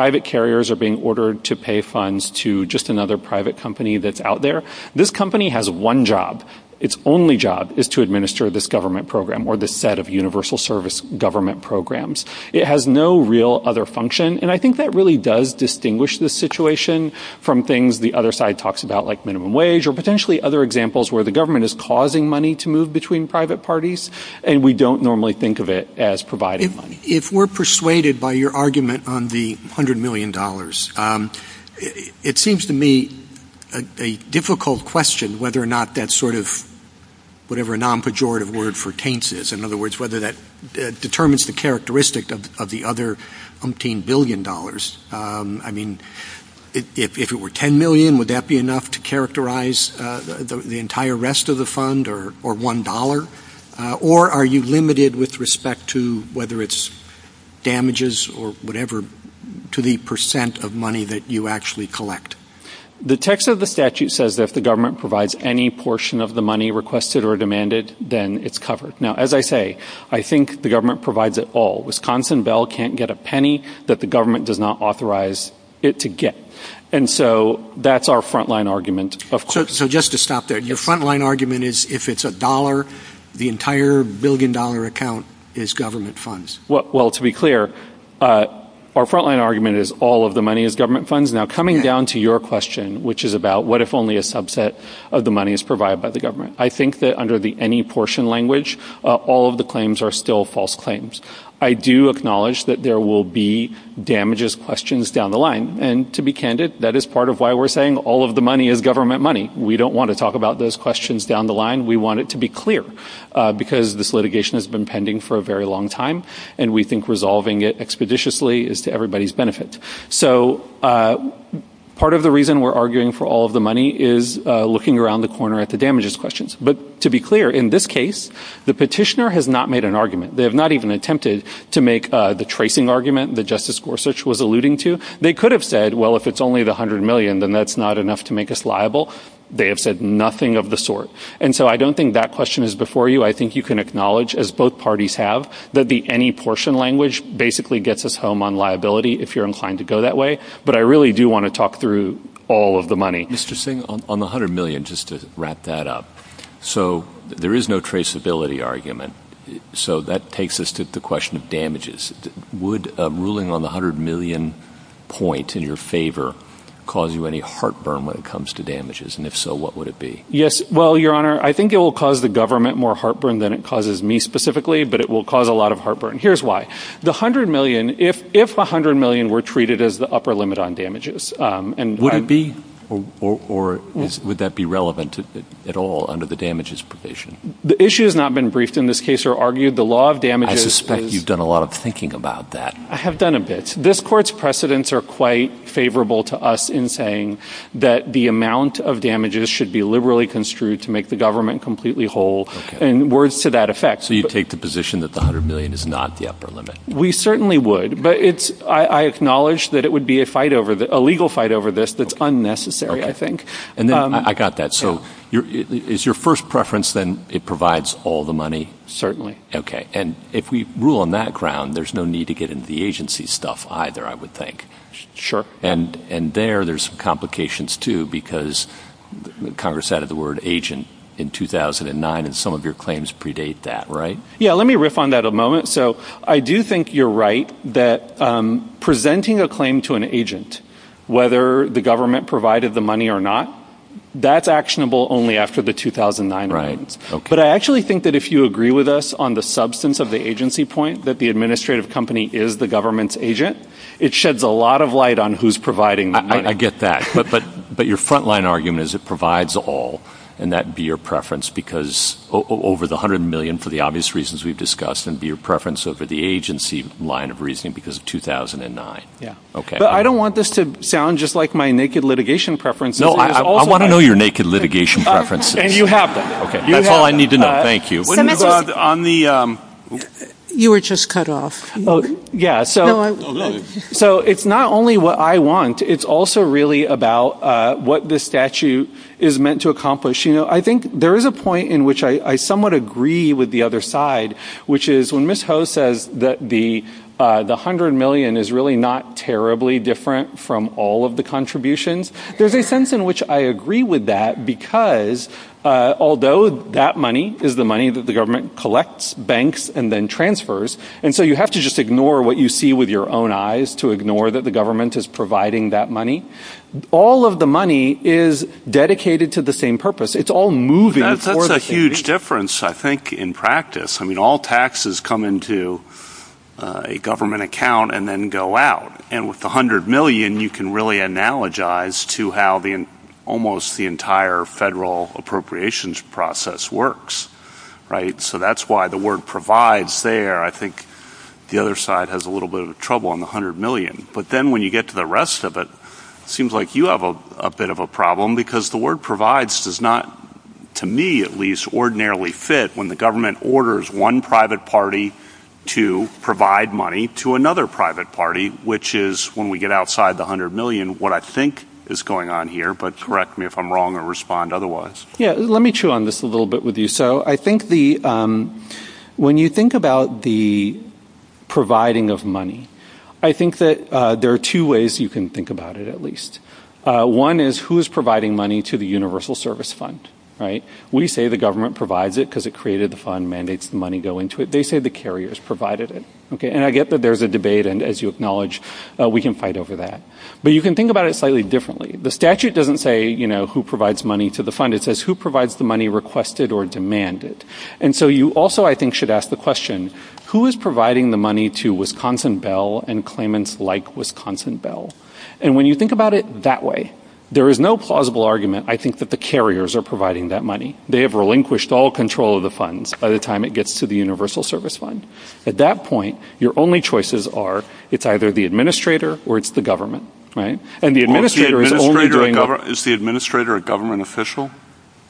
private carriers are being ordered to pay funds to another private company. This company has one job. Its only job is to this set of universal service programs. It has no other function. That really does distinguish this situation from things the other side talks about like minimum wage or other examples where the government is causing money to move between private parties and we don't normally think of it as providing money. If we are persuaded by your argument on the $100 million, it seems to me a difficult question whether or not the government provides any portion of the money requested or demanded. As I say, I think the government provides it all. Wisconsin Bell can't get a penny that the government does not authorize it to get. That's our front-line argument. Your front-line argument is if it's a dollar, the entire billion-dollar account is government funds. To be clear, our front-line argument is all the money is government funds. Coming down to your question, what if all the money is government money? We don't want to talk about those questions down the line. We want it to be clear. Part of the reason we're arguing for all the money is looking around the corner at the damages questions. To be clear, the petitioner has not made an argument. They could have said, if it's only the $100 million, that's not enough to make us liable. I don't think that question is before you. I think you can acknowledge that any portion language gets us home on liability. I want to talk through all the money. The $100 million, just to wrap that up, there is no traceability argument. That takes us to the question of damages. Would ruling on the $100 million point in your favor cause you any heartburn? If so, what would it be? I think it will cause the government more heartburn than it causes me, but it will cause a lot of heartburn. If $100 million were treated as the upper limit on damages... Would that be relevant at all under the damages provision? I suspect you've done a lot of thinking about that. I have done a bit. This is not the upper limit. We certainly would, but I acknowledge that it would be a legal fight over this that is unnecessary. I got that. Is your first preference that it provides all the money? Certainly. If we rule on that, there is no need to get into the agency stuff, either. There are complications there, Congress added the agent in 2009. Let me riff on I think you're right. Presenting a claim to an whether the government provided the money or not, that is actionable only after the 2009 argument. If you agree with us on the substance of the agency point, it sheds a lot of light on who is providing the money. Your front-line argument is it provides all and that would be your preference over the agency line of law. I know your naked litigation preferences. I need to know. Thank you. You were just cut off. It is not only what I want, it is also about what the statute is meant to accomplish. There is a point I agree with the other side, when Ms. O'Brien the money and transfers it. You have to ignore what you see with your own eyes. All of the money is dedicated to the same purpose. It is all moving. That is a huge difference in practice. All taxes come into a government account and then go out. With the federal appropriations process, that is why the word provides there. The other side has trouble. When you get to the rest of it, it seems like you have a problem. The word provides does not fit when the government orders one private party to provide money to another private party. When we get outside of the you think about the providing of money, I think there are two ways you can think about it. One is who is providing money to the universal service fund. We say the government provides it. They say the carriers provided it. I get there is a debate and we can fight over that. You can think about it differently. The statute does not say who provides money to the fund. You should ask the question, who is providing the money to the universal service fund. At that point, your only choices are it is the administrator or the government. administrator is a government official?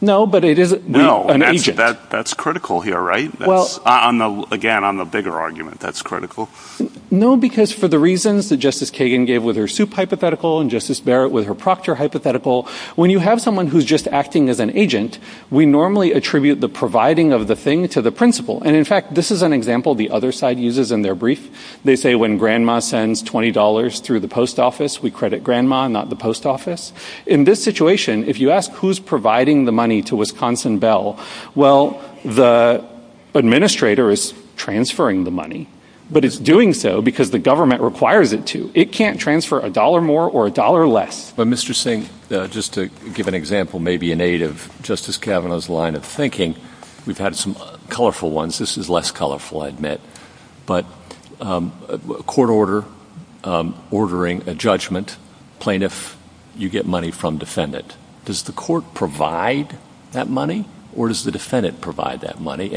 No. That is critical. Again, I am a bigger argument. For the reasons Justice Conway we normally attribute the providing of the thing to the principle. This is an example the other side uses. They say when grandma sends $20 through the post office, we credit grandma. In this situation, if you ask who is providing the money to Wisconsin Bell, the administrator is transferring the money. It is doing so because the government requires it to. It cannot transfer a dollar more or a dollar less. Just to give an example, we have had some colorful ones. This is less colorful. Court order ordering a judgment on plaintiff you get money from defendant. Does the court provide that money or does the defendant provide that money?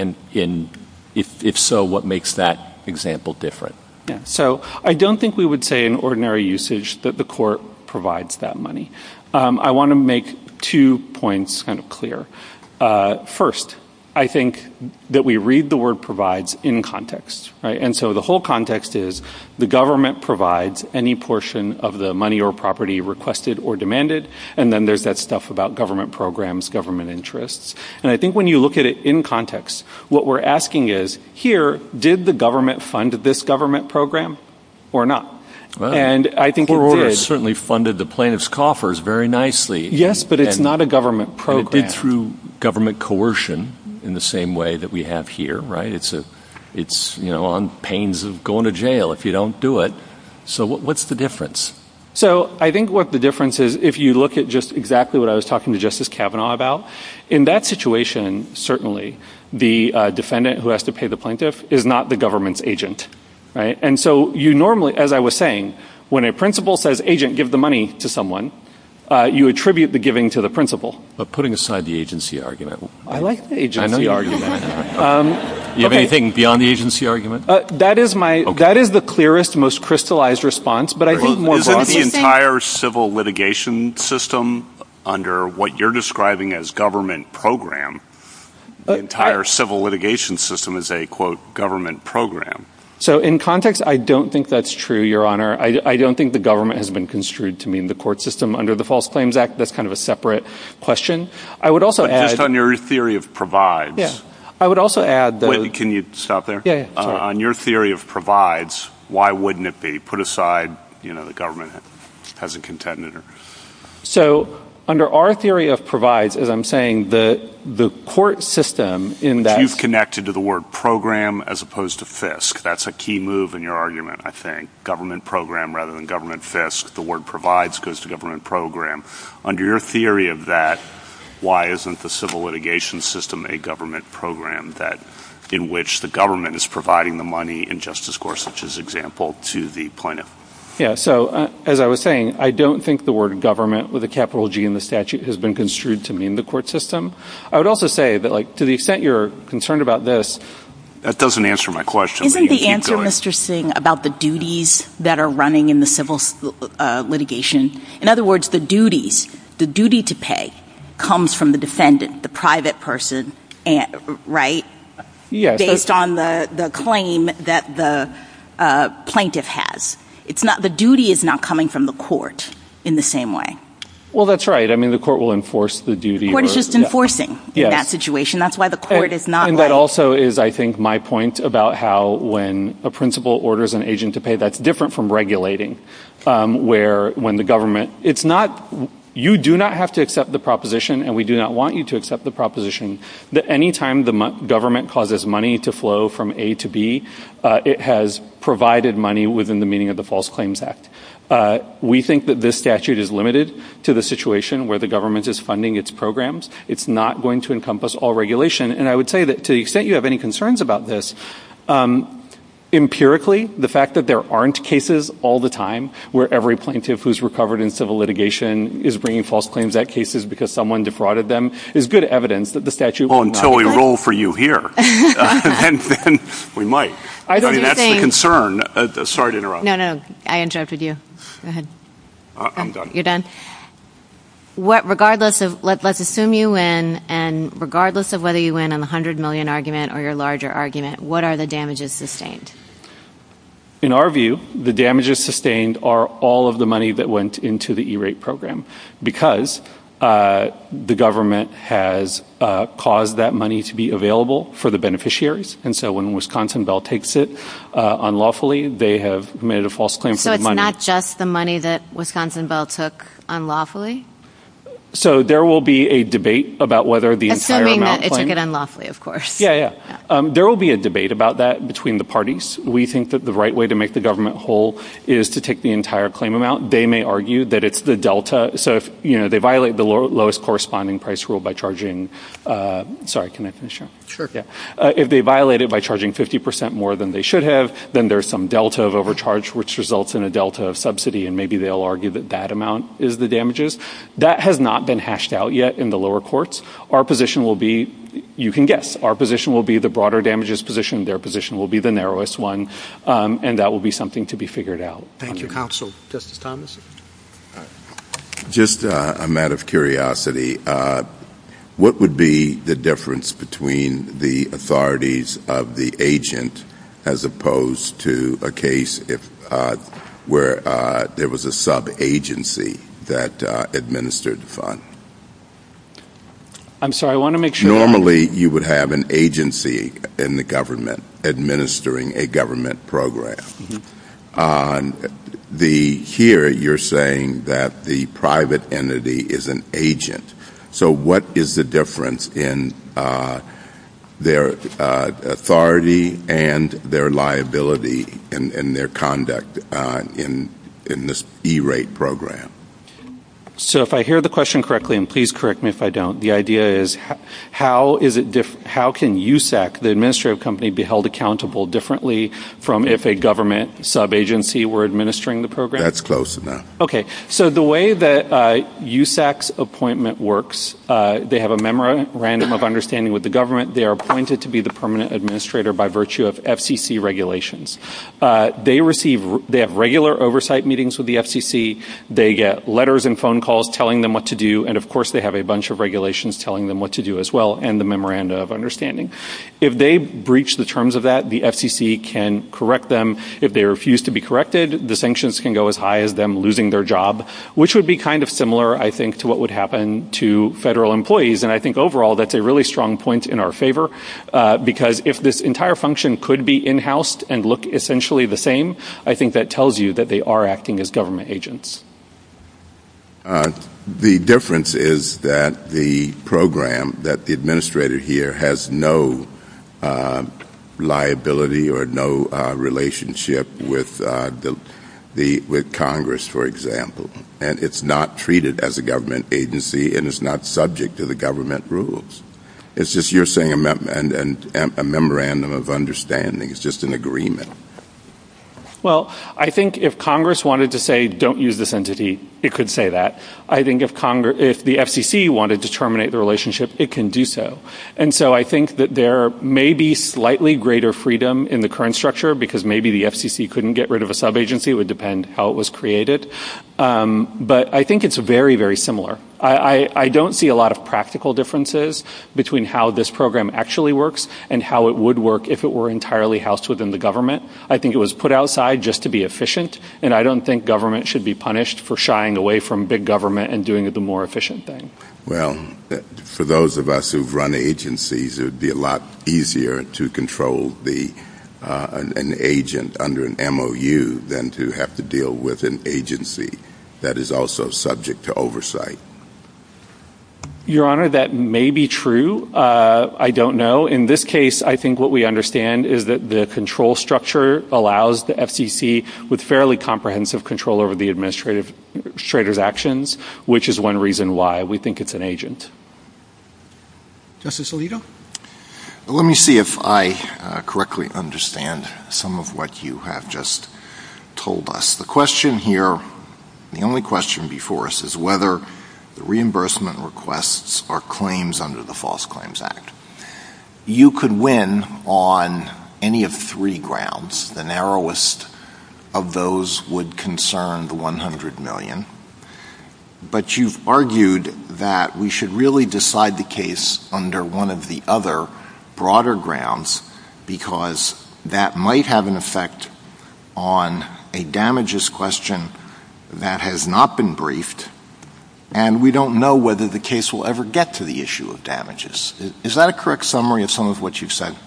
If so, what makes that example different? I don't think we would say in ordinary usage that the court provides that money. I want to make two points clear. First, I think the any portion of the money or property requested or demanded. I think when you look at it in context, what we are asking is, here, did the government fund this government program or not? It certainly funded the plaintiff's coffers very nicely. It did through government coercion in the same way that we have here. It is on pains of going to jail if you don't do it. What is the difference? If you look at what I was talking to Justice Kavanaugh about, in that situation, certainly, the defendant who has to pay the plaintiff is not the government's As I was saying about have anything beyond the argument? That is my clearest response. Is the entire civil litigation system under what you are describing as government program, the entire system as a quote, government program? I don't think that is true, honor. I don't think the government has been construed to mean the court system under the false claims act. That is a separate question. On your theory of provides, why wouldn't it be put aside, the government hasn't contended? Under our theory of the court system. You have connected to the word program. That is a key move in your argument. program. Under your theory of that, why isn't the civil litigation system a government program in which the government is providing the money? As I was saying, I don't think the word government has been construed to mean the court system. To the extent you are concerned about this, that doesn't answer my question. Isn't the answer about the duties that are running in the civil litigation, the duty to pay comes from the defendant, the private person, right? Based on the claim that the plaintiff has, the duty is not coming from the court in the same way. The court will enforce the duty. That is why the court is not right. That is my point about how when a principal orders an agent to pay, that is different from regulating. You do not have to accept the proposition. We do not want you to accept the proposition that any time the government causes money to flow from A to B, it has provided money within the meaning of the claims act. We think this statute is limited to the situation where the government it is good evidence that the statute is not Regardless of whether you win in the 100 million argument or larger argument, what are the damages sustained? In our view, the damages are The government has caused that money to be available for the beneficiaries. When Wisconsin Bell takes it unlawfully, they have made a false claim. There will be a debate about that between the parties. We think the right way to do it corresponding price rule. If they violate it by charging 50% more than they should have, there is a delta of overcharge which results in a delta of That has not been hashed out yet. Our position will be the same. what would be the difference between the authorities of the agent as opposed to a case where there was a sub-agency that administered the Normally, you would have an agency in the administering a government program. Here, you are saying that the private entity is an agent. What is the difference in their authority and their liability and their conduct in this E-rate program? If I hear the question correctly, please correct me if I don't, the idea is how can the administrative company be held accountable differently from if a government sub-agency was administering the program? The way that USAC's appointment works, they have a memorandum of understanding with the government. They have regular oversight meetings with the If they breach the terms of that, the FCC can correct them. If they refuse to be corrected, the sanctions can go as high as losing their job, which would be similar to what would happen to federal employees. That's a strong point in our favor. If this program that the administrator here has no liability or no relationship with Congress, for example, and it's not treated as a government agency and is not subject to the government rules, it's just a memorandum of understanding. just an agreement. If Congress wanted to say don't use this entity, it could say that. If the FCC wanted to terminate the relationship, it could do that. There may be greater freedom in the current structure. I think it's very similar. I don't see a lot of practical differences between how this program actually works and how it would work if it were housed within the government. think government should be punished for shying away from big government. For those of us who run agencies, it would be easier to control an agent under an agency. I don't know if that's true. In this case, I think what we understand is that the control structure allows the with fairly comprehensive control over the administrator's actions, which is one reason why we think it's an agent. Let me see if I correctly understand some of what you have just told us. The only question before us is whether reimbursement requests are claims under the false claims act. You could win on any of three grounds. The narrowest of those would concern the 100 million, but you could one of the other broader grounds because that might have an effect on a damages question that has not been briefed and we don't know whether the case will ever get to the issue of Is that a correct summary of some of what you said?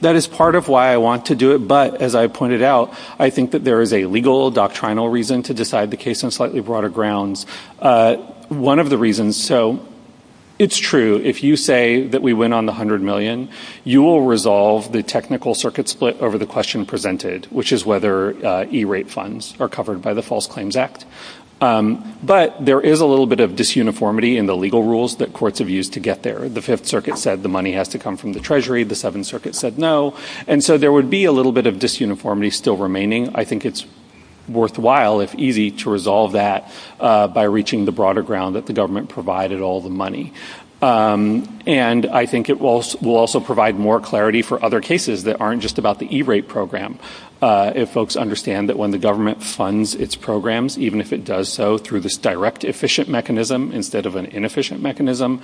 That is part of know why I want to do it, but I think there is a legal reason to decide the case on slightly broader grounds. It is true. If you say we went on the 100 million, you will resolve the technical circuit split over the question presented, which is whether E-rate funds are covered by the false claims act. There is a little bit of disuniformity in the legal rules that courts have used to get there. There would be a little bit of disuniformity remaining. I think it is worthwhile if easy to resolve that by reaching the broader ground. I think it will also provide more clarity for other cases that are not just about the E-rate program. Even if it does so through this direct efficient mechanism, the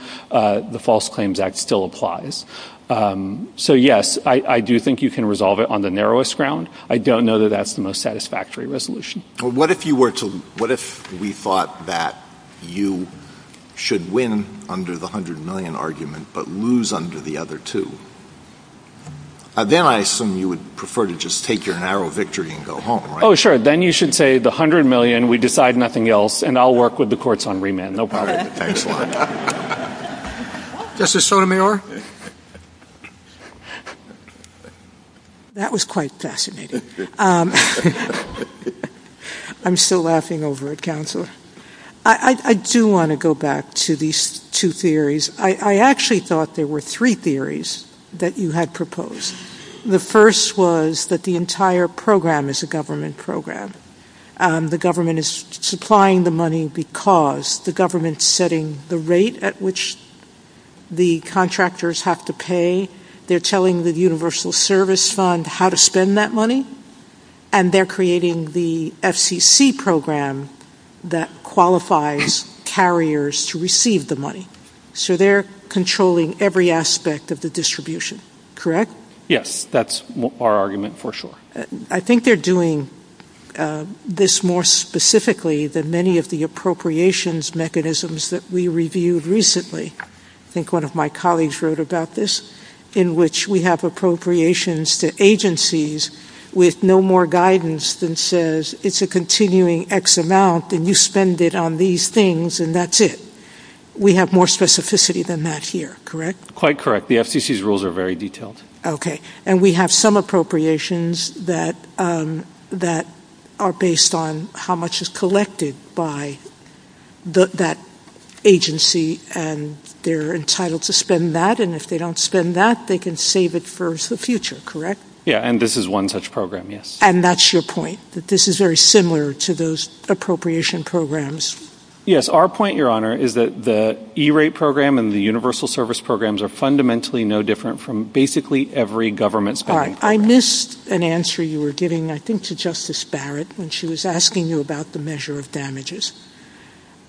false claims act still applies. I do think you can resolve it on your own. What if we thought that you should win under the 100 million argument but lose under the other two? Then I assume you would prefer to just take your narrow victory and go home. Then you should say the 100 million, we decide nothing else, and I will work with the courts on remand. That's the sort of thing. That was quite fascinating. I'm still laughing over it. I do want to go back to these two theories. I actually thought there were three theories that you had proposed. The first was that the entire program is a government program. The government is supplying the money because the government is setting the rate at which the contractors have to pay. They're telling the universal service fund how to spend that money, and they're creating the FCC program that qualifies carriers to receive the So they're controlling every aspect of the distribution. Correct? Yes. That's our argument for sure. I think they're doing this more specifically than many of the appropriations mechanisms that we reviewed recently. I think one of my colleagues wrote about this, in which we have appropriations to agencies with no more guidance than says it's a continuing X amount, and you spend it on these things, and that's it. We have more specificity than that here, correct? Quite correct. The FCC's rules are very detailed. And we have some appropriations that are based on how much is collected by that agency, and they're entitled to spend that, and if they don't spend that, they can save it for the future, correct? Yes, and this is one such program, yes. And that's your point, that this is very similar to those appropriation programs? Yes, our point, Your Honor, is that the E-rate program and the universal service programs are fundamentally no different from basically every government spending program. I missed an answer you were giving, I think, to Justice Barrett when she was asking you about the measure of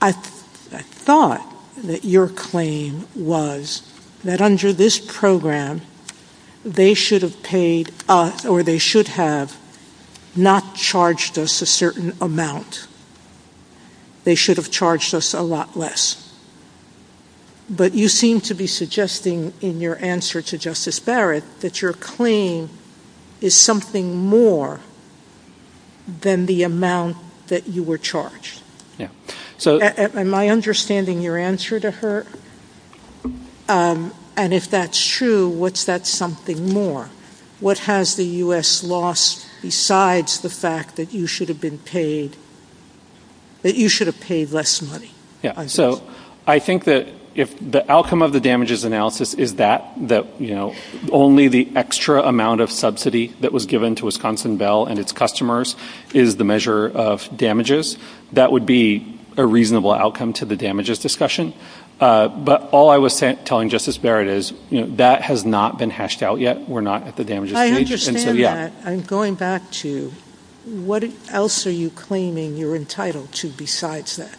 I thought that your claim was that under this program they should have paid or they should have not charged us a certain amount. They should have charged us a lot less. But you seem to be suggesting in your answer to Justice Barrett that your claim is something more than the amount that you were charged. Am I understanding your answer to her? And if that's true, what's that something more? What has the U.S. lost besides the fact that you should have been paid, that you should have paid less money? I think that the outcome of the damages analysis is that only the extra amount of subsidy that was given to Wisconsin Bell and its customers is the measure of That would be a reasonable outcome to the damages discussion. But all I was telling Justice Barrett is that has not been hashed out yet. I understand that. I'm going back to what else are you claiming you are entitled to besides that.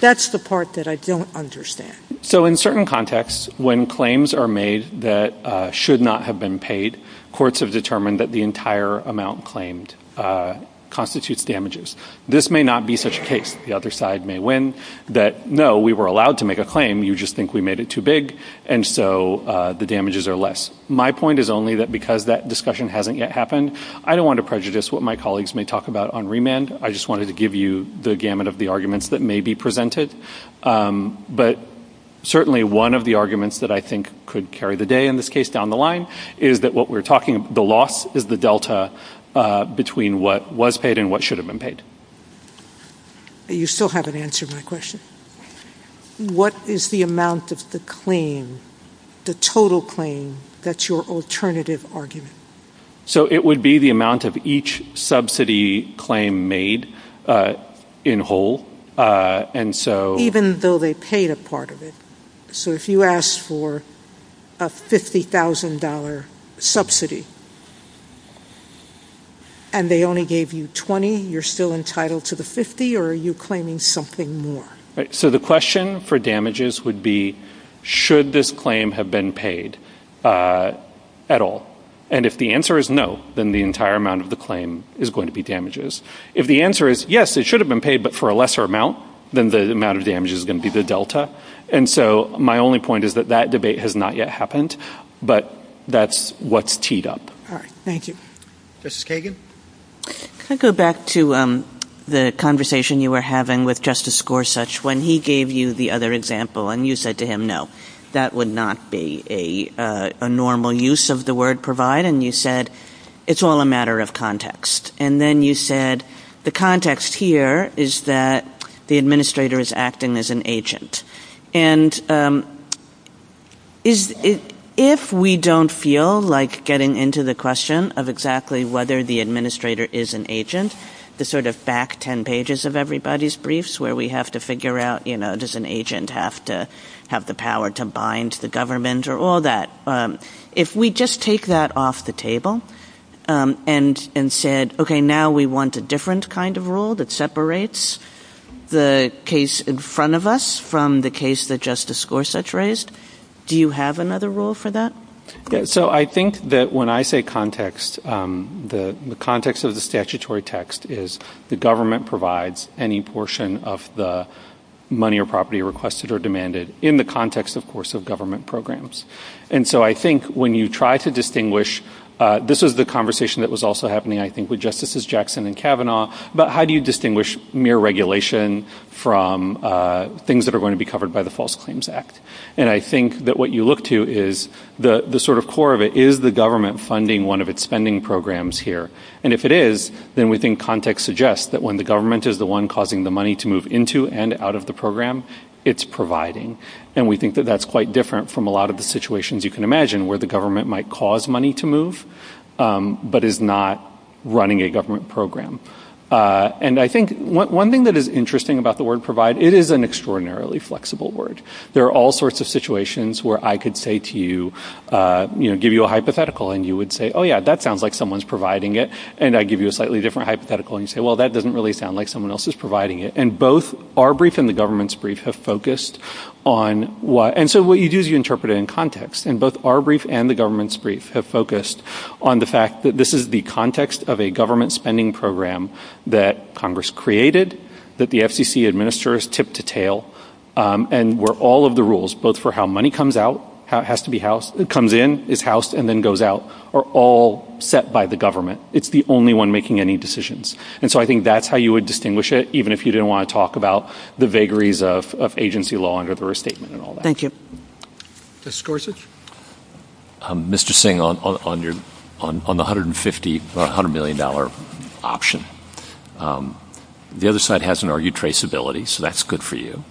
That's the part that I don't understand. So in certain contexts when claims are made that should not have been paid, courts have determined that the entire amount claimed constitutes damages. This may not be such a case that no, we were allowed to make a claim, you just think we made it too big and so the damages are less. My point is only that because that discussion hasn't yet happened, I don't want to what my colleagues may talk about. Certainly one of the arguments that I think could carry the day in this case down the line is that the loss is the delta between what was paid and what should have been paid. You still haven't answered my question. What is the amount of the claim, the total claim that's your alternative argument? It would be the amount of each subsidy claim made in whole and so Even though they paid a part of it. If you asked for a $50,000 subsidy and they only gave you 20, you're still entitled to the 50 or are you something more? The question for damages would be should this claim have been paid at all? If the answer is no, then the entire amount of the claim is going to be damages. If the answer is yes, it should have been paid at I want to go back to the conversation you were having with Justice Gorsuch when he gave you the other example and you said to him no, that would not be a normal use of the word provide and you said it's all a matter of And then you said that the context here is that the administrator is acting as an agent. if we don't feel like getting into the question of exactly whether the administrator is an the sort of back ten pages of everybody's briefs where we have to figure out does an agent have the power to bind the government or the all that. If we just take that off the table and said now we want a different kind of rule that separates the case in front of us from the case that Gorsuch raised, do you have another rule for that? I think when I say context, the context of the statutory text is the government provides any portion of the money or property requested or demanded in the context of government programs. I think when you try to this is that was also the context core of it is the government funding one of the programs here. If it is, context suggests when the government is the one causing the money to move into and out of the program. I think one thing that is interesting about the word provide is it is an extraordinarily flexible word. There are situations where I could give you a hypothetical and you would say that sounds like someone is providing it. That doesn't sound like someone else is providing it. Our brief and the government have focused on the fact that this is the context of a spending program that Congress created. All of the rules for how money comes in and goes out are all set by the government. It is the only one making any decisions. I think that is how you would distinguish it even if you didn't want to talk about the vagaries of agency law. Mr. Singh, on the $100 million option, the other side has an argued traceability. That is good for you.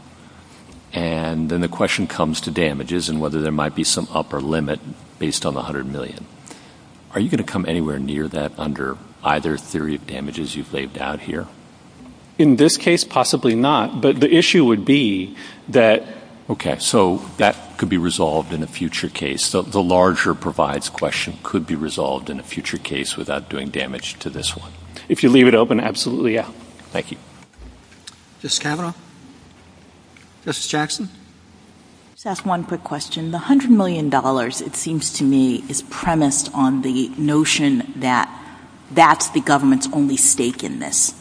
The question comes to damages and whether there might be some upper limit based on the $100 million. Are you going to come anywhere near that? In this case, possibly not. The issue would be that that could be resolved in a future case. The larger provides question could be resolved in a future case without doing damage to this one. If you leave it open, absolutely yes. Thank you. One quick question. $100 million is premised on the notion that that is the government's only stake in this.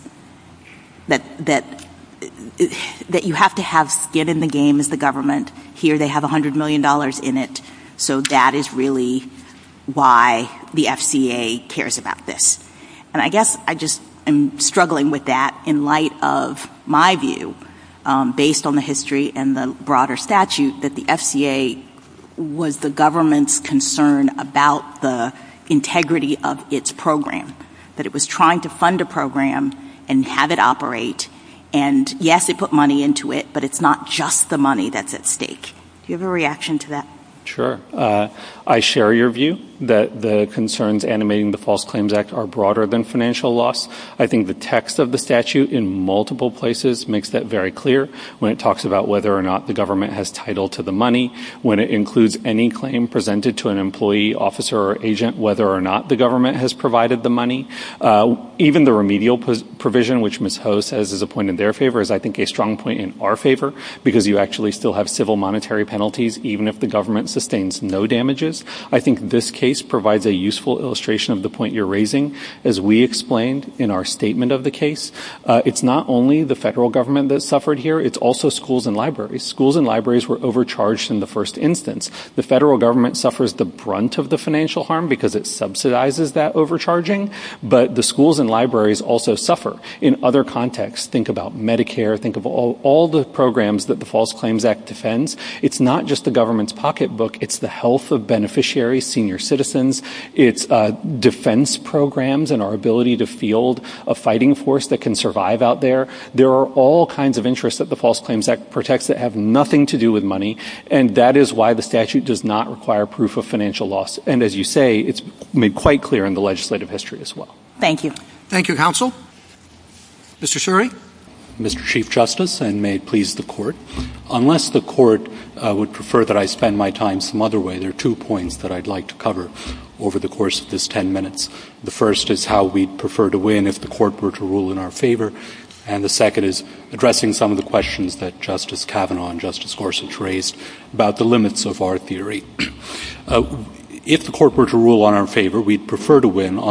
That you have to get in the game as the government. Here they are trying to a program and have it operate. Yes, it put money into it, but it's not just the money that's at stake. Do you have a reaction to that? Sure. I share your view that the concerns animating the false claims act are broader than financial loss. I think the text of the statute makes that clear. When it talks about whether or not the government has title to the money. Even the remedial provision is a strong point in our favor because you have civil monetary penalties even if the government sustains no damages. I think this case provides a useful illustration of the point you're raising. It's not only the federal government that suffered here. The federal government suffers the brunt of the financial harm because it subsidizes that benefit. It's the health of beneficiaries, senior citizens, defense programs and our ability to field a fighting force that can survive out there. There are all kinds of interests that the false claims act protects that have nothing to do with money. That's why the statute does not require proof of financial loss. It's made quite clear in the legislative history as well. Unless the court would prefer that I spend my time some other way, there are two points I would like to The first is how we would win on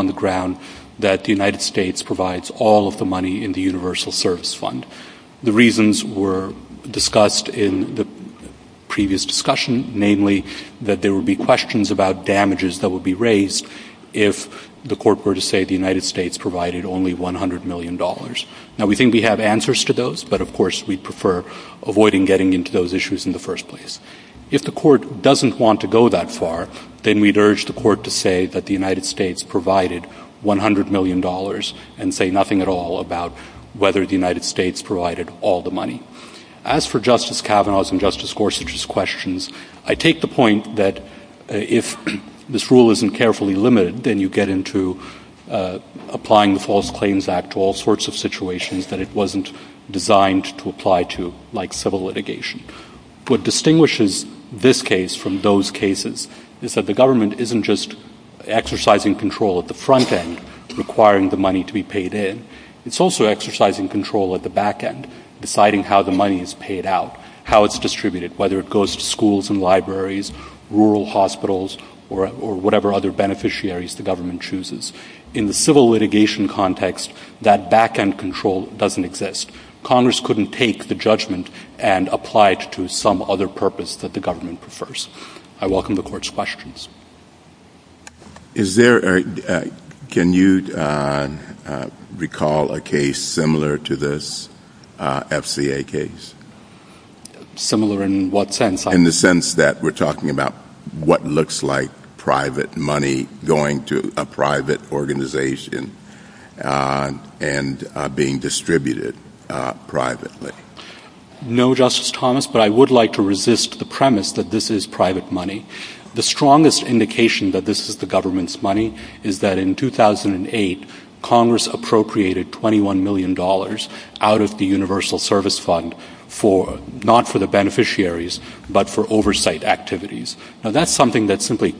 the ground that the United States provides all of the money in the universal service fund. The reasons were discussed in the previous discussion, namely that there would be questions about damages that would be raised if the court were to say the United States provided only $100 million. We think we have answers to those, but of course we prefer avoiding getting into those issues in the first place. If the court doesn't want to go that far, then we would urge the court to say that the United States provided $100 million and say nothing at all about whether the United States provided all the money. As for Justice Kagan, to apply to, like civil litigation. What distinguishes this case from those cases is that the government isn't just exercising control at the front end, requiring the money to be paid in. It's also exercising control at the back end, deciding how the money is paid out, how it's distributed, whether it goes to schools and rural hospitals, or whatever other beneficiaries the government chooses. In the civil litigation context, that back end control doesn't exist. Congress couldn't take the judgment and apply it to some other purpose that the prefers. I welcome the Court's Is there a can you recall a case similar to this FCA case? Similar in what sense? In the sense that we're talking about what looks like private money going to a organization and being distributed privately. No, Justice Thomas, but I would like to say that this is private money. The strongest indication that this is the government's money is that in 2008, Congress appropriated $21 million out of the universal service fund not for the beneficiaries but for oversight activities. That's something that Congress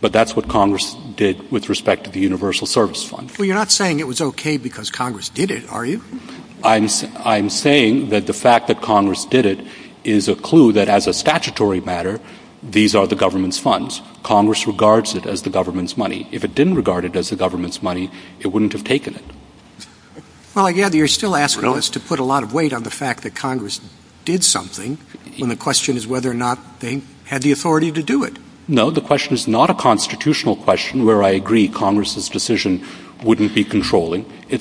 But that's what Congress did with respect to the universal service fund. You're not saying it was okay because Congress did it, are you? I'm saying that the fact that Congress did it is a clue that as a statutory matter, these are the funds. Congress regards it as the government's money. If it didn't regard it as the government's money, it wouldn't have taken it. You're still asking us to put a lot of weight on the fact that Congress did something, and the question is whether or not they had the authority to do it. No, the question is whether a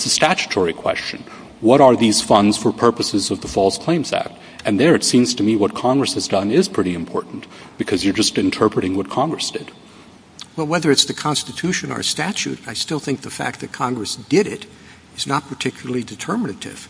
statutory question. What are these funds for purposes of the false claims act? And there it seems to me what Congress has done is pretty important because you're just interpreting what Congress did. I still think the fact that Congress did it is not particularly determinative.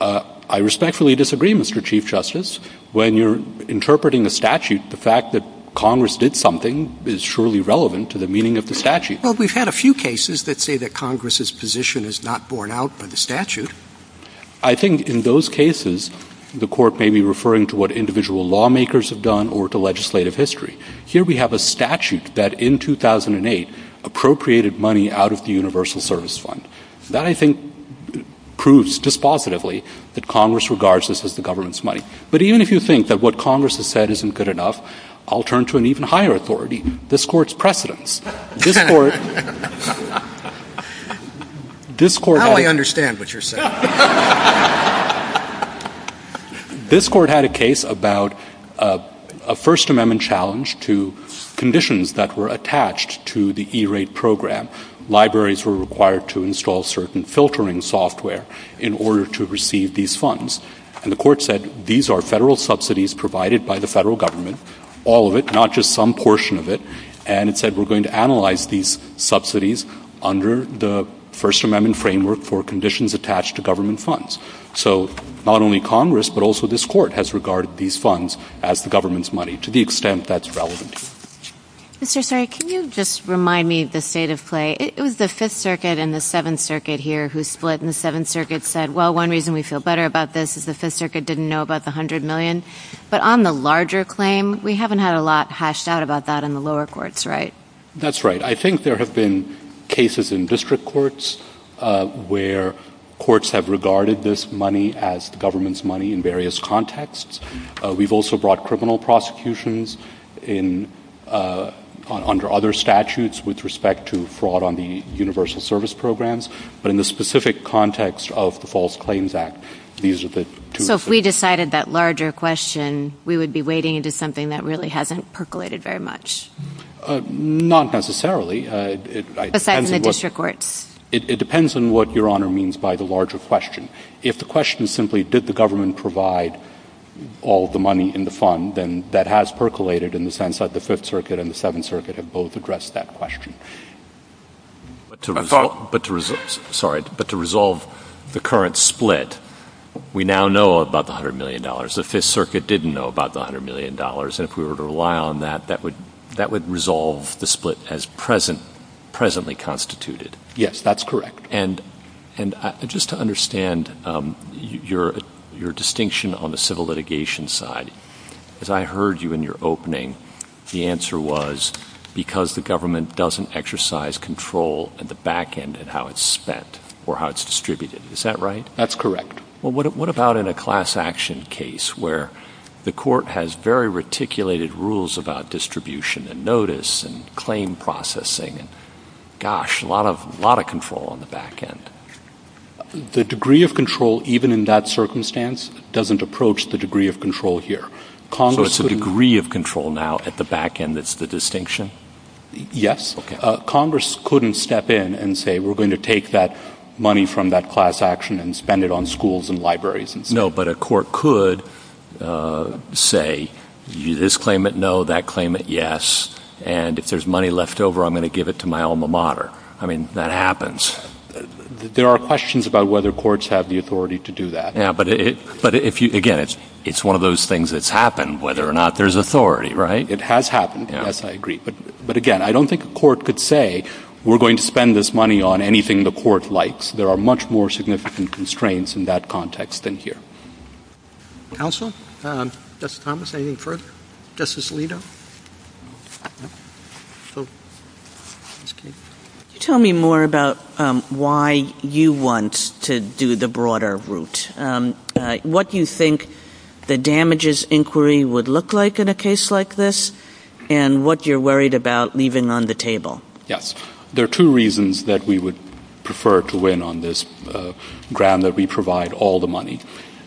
I respectfully disagree, Mr. Chief Justice. When you're interpreting a statute, the fact that Congress did something is surely relevant to the meaning of the statute. Well, we've had a few cases that say that Congress's position is not borne out by the government's by the government's money. That, I think, proves dispositively that Congress regards this as the government's But even if you think that what Congress has said isn't good enough, I'll turn to an even higher authority, this court's precedence. This court had a case about a First Amendment challenge to conditions that were attached to the E-rate program. were required to install certain filtering software in order to receive these funds. And the court said these are federal subsidies provided by the federal government, all of it, not just some portion of it, and it said we're going to analyze these subsidies under the First Amendment framework for conditions attached to government funds. So not only Congress but also this court has regarded these funds as the government's money to the extent that's relevant. Thank you. Mr. Sari, can you just remind me of the state of play? It was the Circuit and the Seventh Circuit here who split and the Seventh Circuit said well, one reason we feel better about this is the Fifth Circuit didn't know about the hundred million. But on the larger claim, we haven't had a lot hashed out about that in the lower courts, right? That's right. I think there have been cases in district courts where courts have regarded this money as the government's money in various contexts. We've also brought criminal prosecutions under other statutes with respect to fraud on the universal service programs. But in the specific context of the false claims act, these are the two things. So if we decided that larger question, we would be wading into something that really hasn't percolated very much? Not necessarily. Besides in the district courts? It depends on what Your Honor means by the larger question. If the question is simply did the government provide all the money in the fund, then that has percolated in the sense that the 5th circuit and the 7th circuit have both addressed that question. But to resolve the current split, we now know about the $100 million. The 5th circuit didn't know about the $100 million. If we were to rely on that, that would resolve the split as presently constituted. Yes, that's correct. And just to understand your distinction on the civil litigation side, as I heard you in your opening, the answer was because the government doesn't exercise control at the back end of how it's spent or distributed. Is that right? That's correct. What about in a class action case where the has a lot of control on the back end? The degree of control even in that circumstance doesn't approach the degree of control here. So it's the degree of control now at the back end that's the distinction? Yes. Congress couldn't step in and say we're going to take that money from that class action and spend it on schools and No, but a court could say this claimant no, that claimant yes, and if there's money left over I'm going to give it to my alma mater. That happens. There are questions about whether courts have the authority to do that. Again, it's one of those things that's happened, whether or not there's authority to But again, I don't think a court could say we're going to spend this money on anything the court likes. There are much more significant constraints in that context than here. Counsel, Justice Thomas, anything further? Justice Alito? Tell me more about why you want to do the worried about leaving on the table? There are two reasons that we would prefer to win on this grant that we provide all the money.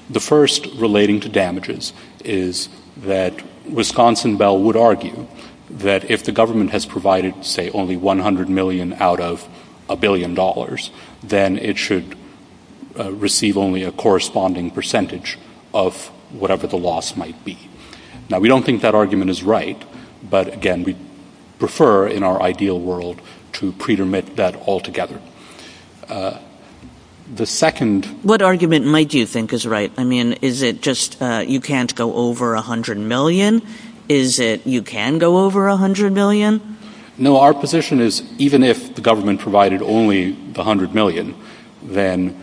The first relating to damages is that Wisconsin Bell would argue that if the government has provided say only $100 million out of a billion dollars then it should receive only a corresponding percentage of whatever the loss might be. We don't think that argument is right, but we prefer in our ideal world to pretermit that altogether. What argument might you think is right? Is it just you can't go over $100 million? Is it you can go over $100 million? No, our position is even if the provided only $100 million then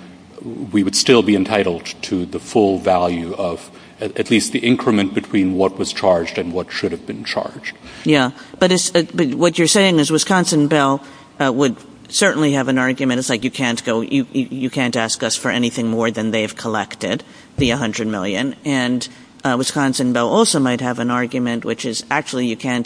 we would still be entitled to the full value of at least the increment between what was charged and what should have been charged. Yeah, but what you're saying is Wisconsin Bell would certainly have an argument which is actually you can't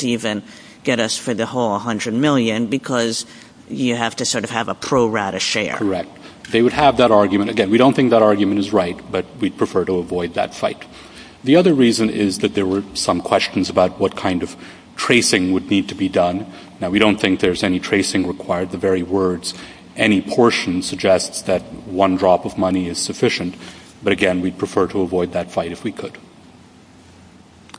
even get us for the whole $100 million because you have to have a pro-rata share. They would have that argument. Again, we don't think that argument is right, but we prefer to avoid that fight. The other reason is that there were some questions about what kind of tracing would need to be done. We don't think there's any tracing required. Any portion suggests that one drop of money is sufficient, but we prefer to avoid that fight if we could.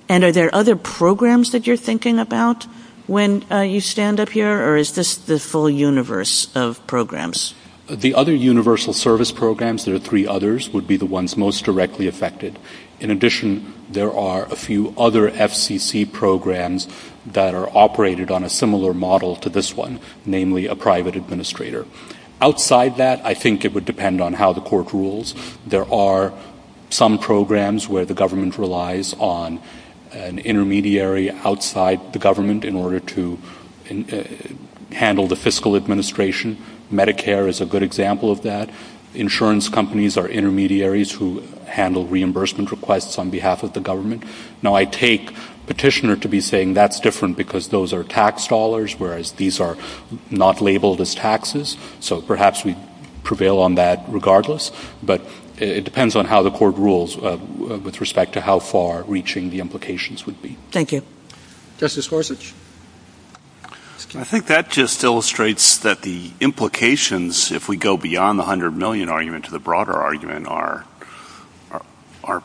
Are there other programs that you're thinking about when you stand up here or is this the full universe of programs? The other universal service programs would be the ones most directly affected. In addition, there are a few other FCC programs that are operated on a similar model to this one, namely a private administrator. Outside that, I think it would depend on how the court rules. There are some programs where the government relies on an intermediary and the insurance companies are intermediaries who handle reimbursement requests on behalf of the government. I take petitioner to be saying that's different because those are tax dollars whereas these are not labeled as so perhaps we prevail on that regardless, but it depends on how the court rules with respect to how far reaching the implications would be. Justice Forsage? I think that just illustrates that the implications, if we go beyond the 100 million argument to the broader argument, are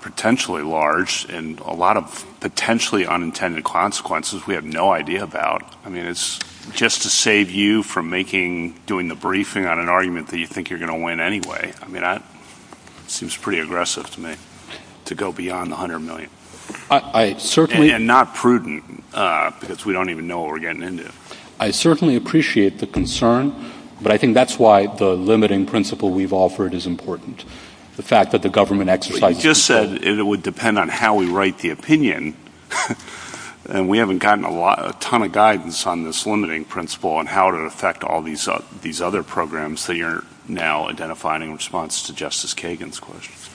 potentially large and a lot of potentially unintended consequences we have no idea about. It's just to save you from doing the briefing on an argument you think you're going to win anyway. It seems pretty aggressive to me to go beyond the 100 million and not prudent because we don't even know what we're getting into. I certainly appreciate the concern but I think that's why the limiting principle we've offered is important. You just said it would depend on how we write the opinion and we haven't gotten a ton of guidance on this limiting principle and how it affects these other programs that you're now identifying in response to Justice Kagan's questions.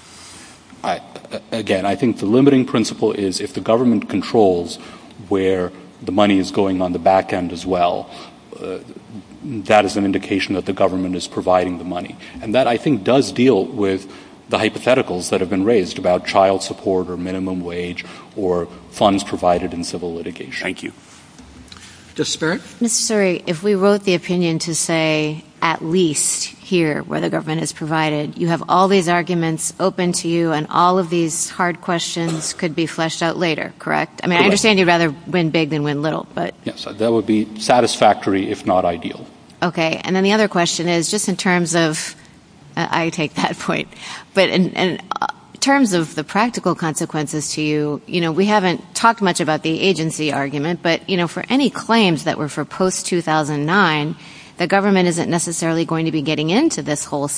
Again, I think the principle is if the controls where the money is going on the government funds provided in civil litigation. Justice Byrd. If we wrote the opinion to say at least here where the government is provided, you have all these arguments open to you and all of these hard questions could be fleshed out later. I understand you rather win big than win little. That would be satisfactory if not ideal. I take that point. In terms of the practical consequences to you, we haven't talked much about the agency argument but for any claims that were for post 2009 the government isn't necessarily going to be getting into this whole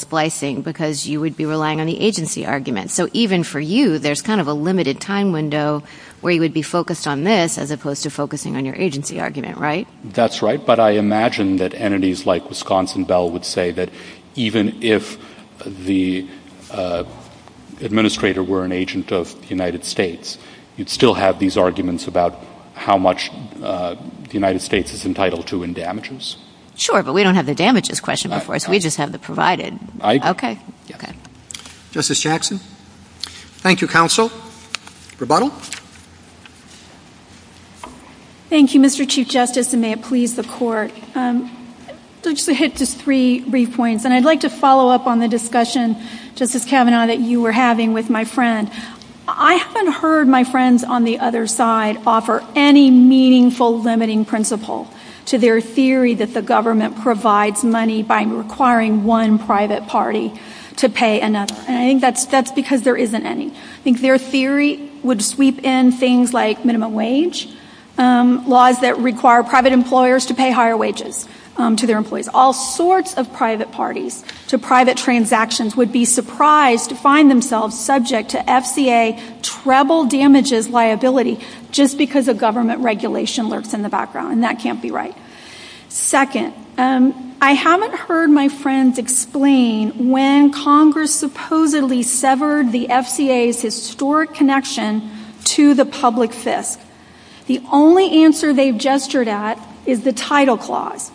We would be focused on this as opposed to focusing on your agency argument. I imagine entities like Wisconsin Bell would say even if the administrator were an agent of the United States, you would still have these about how much the United States has to pay. I would like to follow up on the discussion that you were having with my friend. I haven't heard my friends on the other side offer any meaningful limiting principle to their theory that the government provides money by requiring one private party to pay enough. I think that's because there isn't any. Their theory would sweep in things like minimum wage, laws that require private employers to pay higher wages to their employees. All sorts of private parties, private transactions would be surprised to see I haven't heard my friends explain when Congress supposedly severed the FCA's historic connection to the public sys. The only answer they gestured at is the title clause.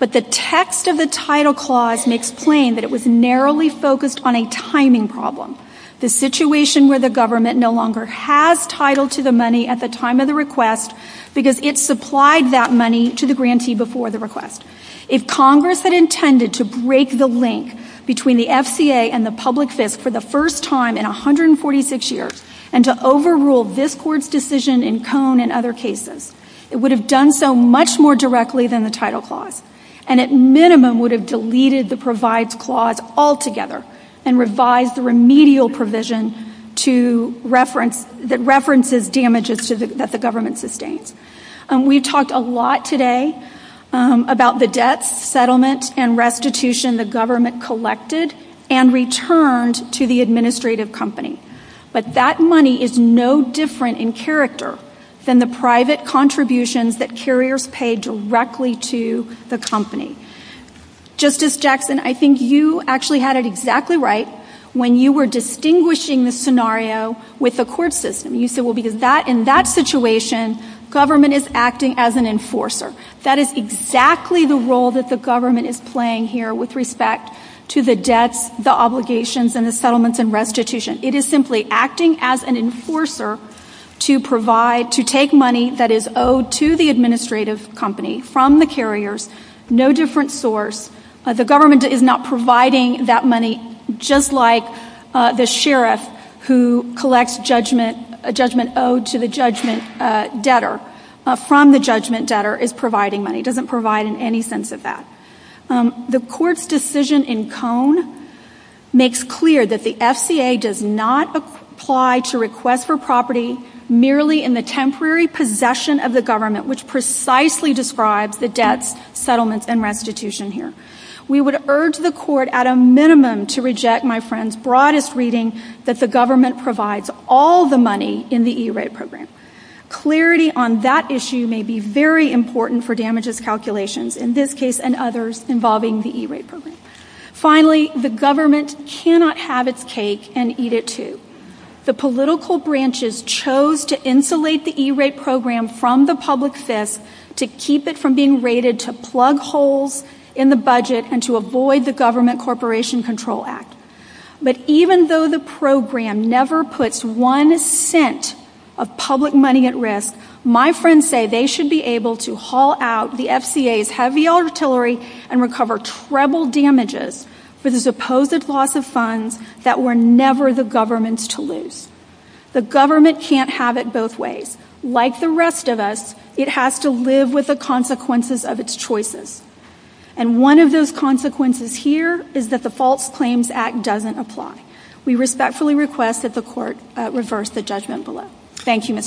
But the text of the title clause explained it was narrowly focused on a timing problem. The title clause intended to break the link between the FCA and the public sys for the first time in 146 years and to overrule this court's decision in cone and other cases. It would have done so much more directly than the title clause and at minimum would have deleted the clause altogether and revised the remedial provision that references damages that the government sustained. We talked a lot today about the debt, settlement and restitution the government collected and returned to the administrative company. But that money is no different in character than the private contributions that you actually had it exactly right when you were distinguishing the scenario with the court system. You said in that situation government is acting as an enforcer. That is exactly the role that the government is playing here with respect to the debt, obligations and settlement and restitution. It is simply acting as an enforcer to take money that is owed to the administrative company from the carriers, no different source. The government is not providing that money just like the sheriff who collects judgment owed to the judgment debtor from the judgment debtor is providing money. It doesn't provide in any sense of that. The court's decision in cone makes clear that the FCA does not apply to request for property merely in the temporary possession of the government which precisely describes the debt, settlement and restitution here. We would urge the court at a minimum to reject my friend's broadest reading that the government provides all the money in the budget. government cannot have its cake and eat it too. The political branches chose to insulate the E-rate program from the public to keep it from being rated to plug holes in the budget and to avoid the government corporation control act. Even though the program never puts one cent of public money at risk, my friend, the government cannot have it both ways. Like the rest of us, it has to live with the consequences of its choices. And one of those consequences here is that the false claims act doesn't apply. We respectfully request that the court reverse the judgment bill. Thank you,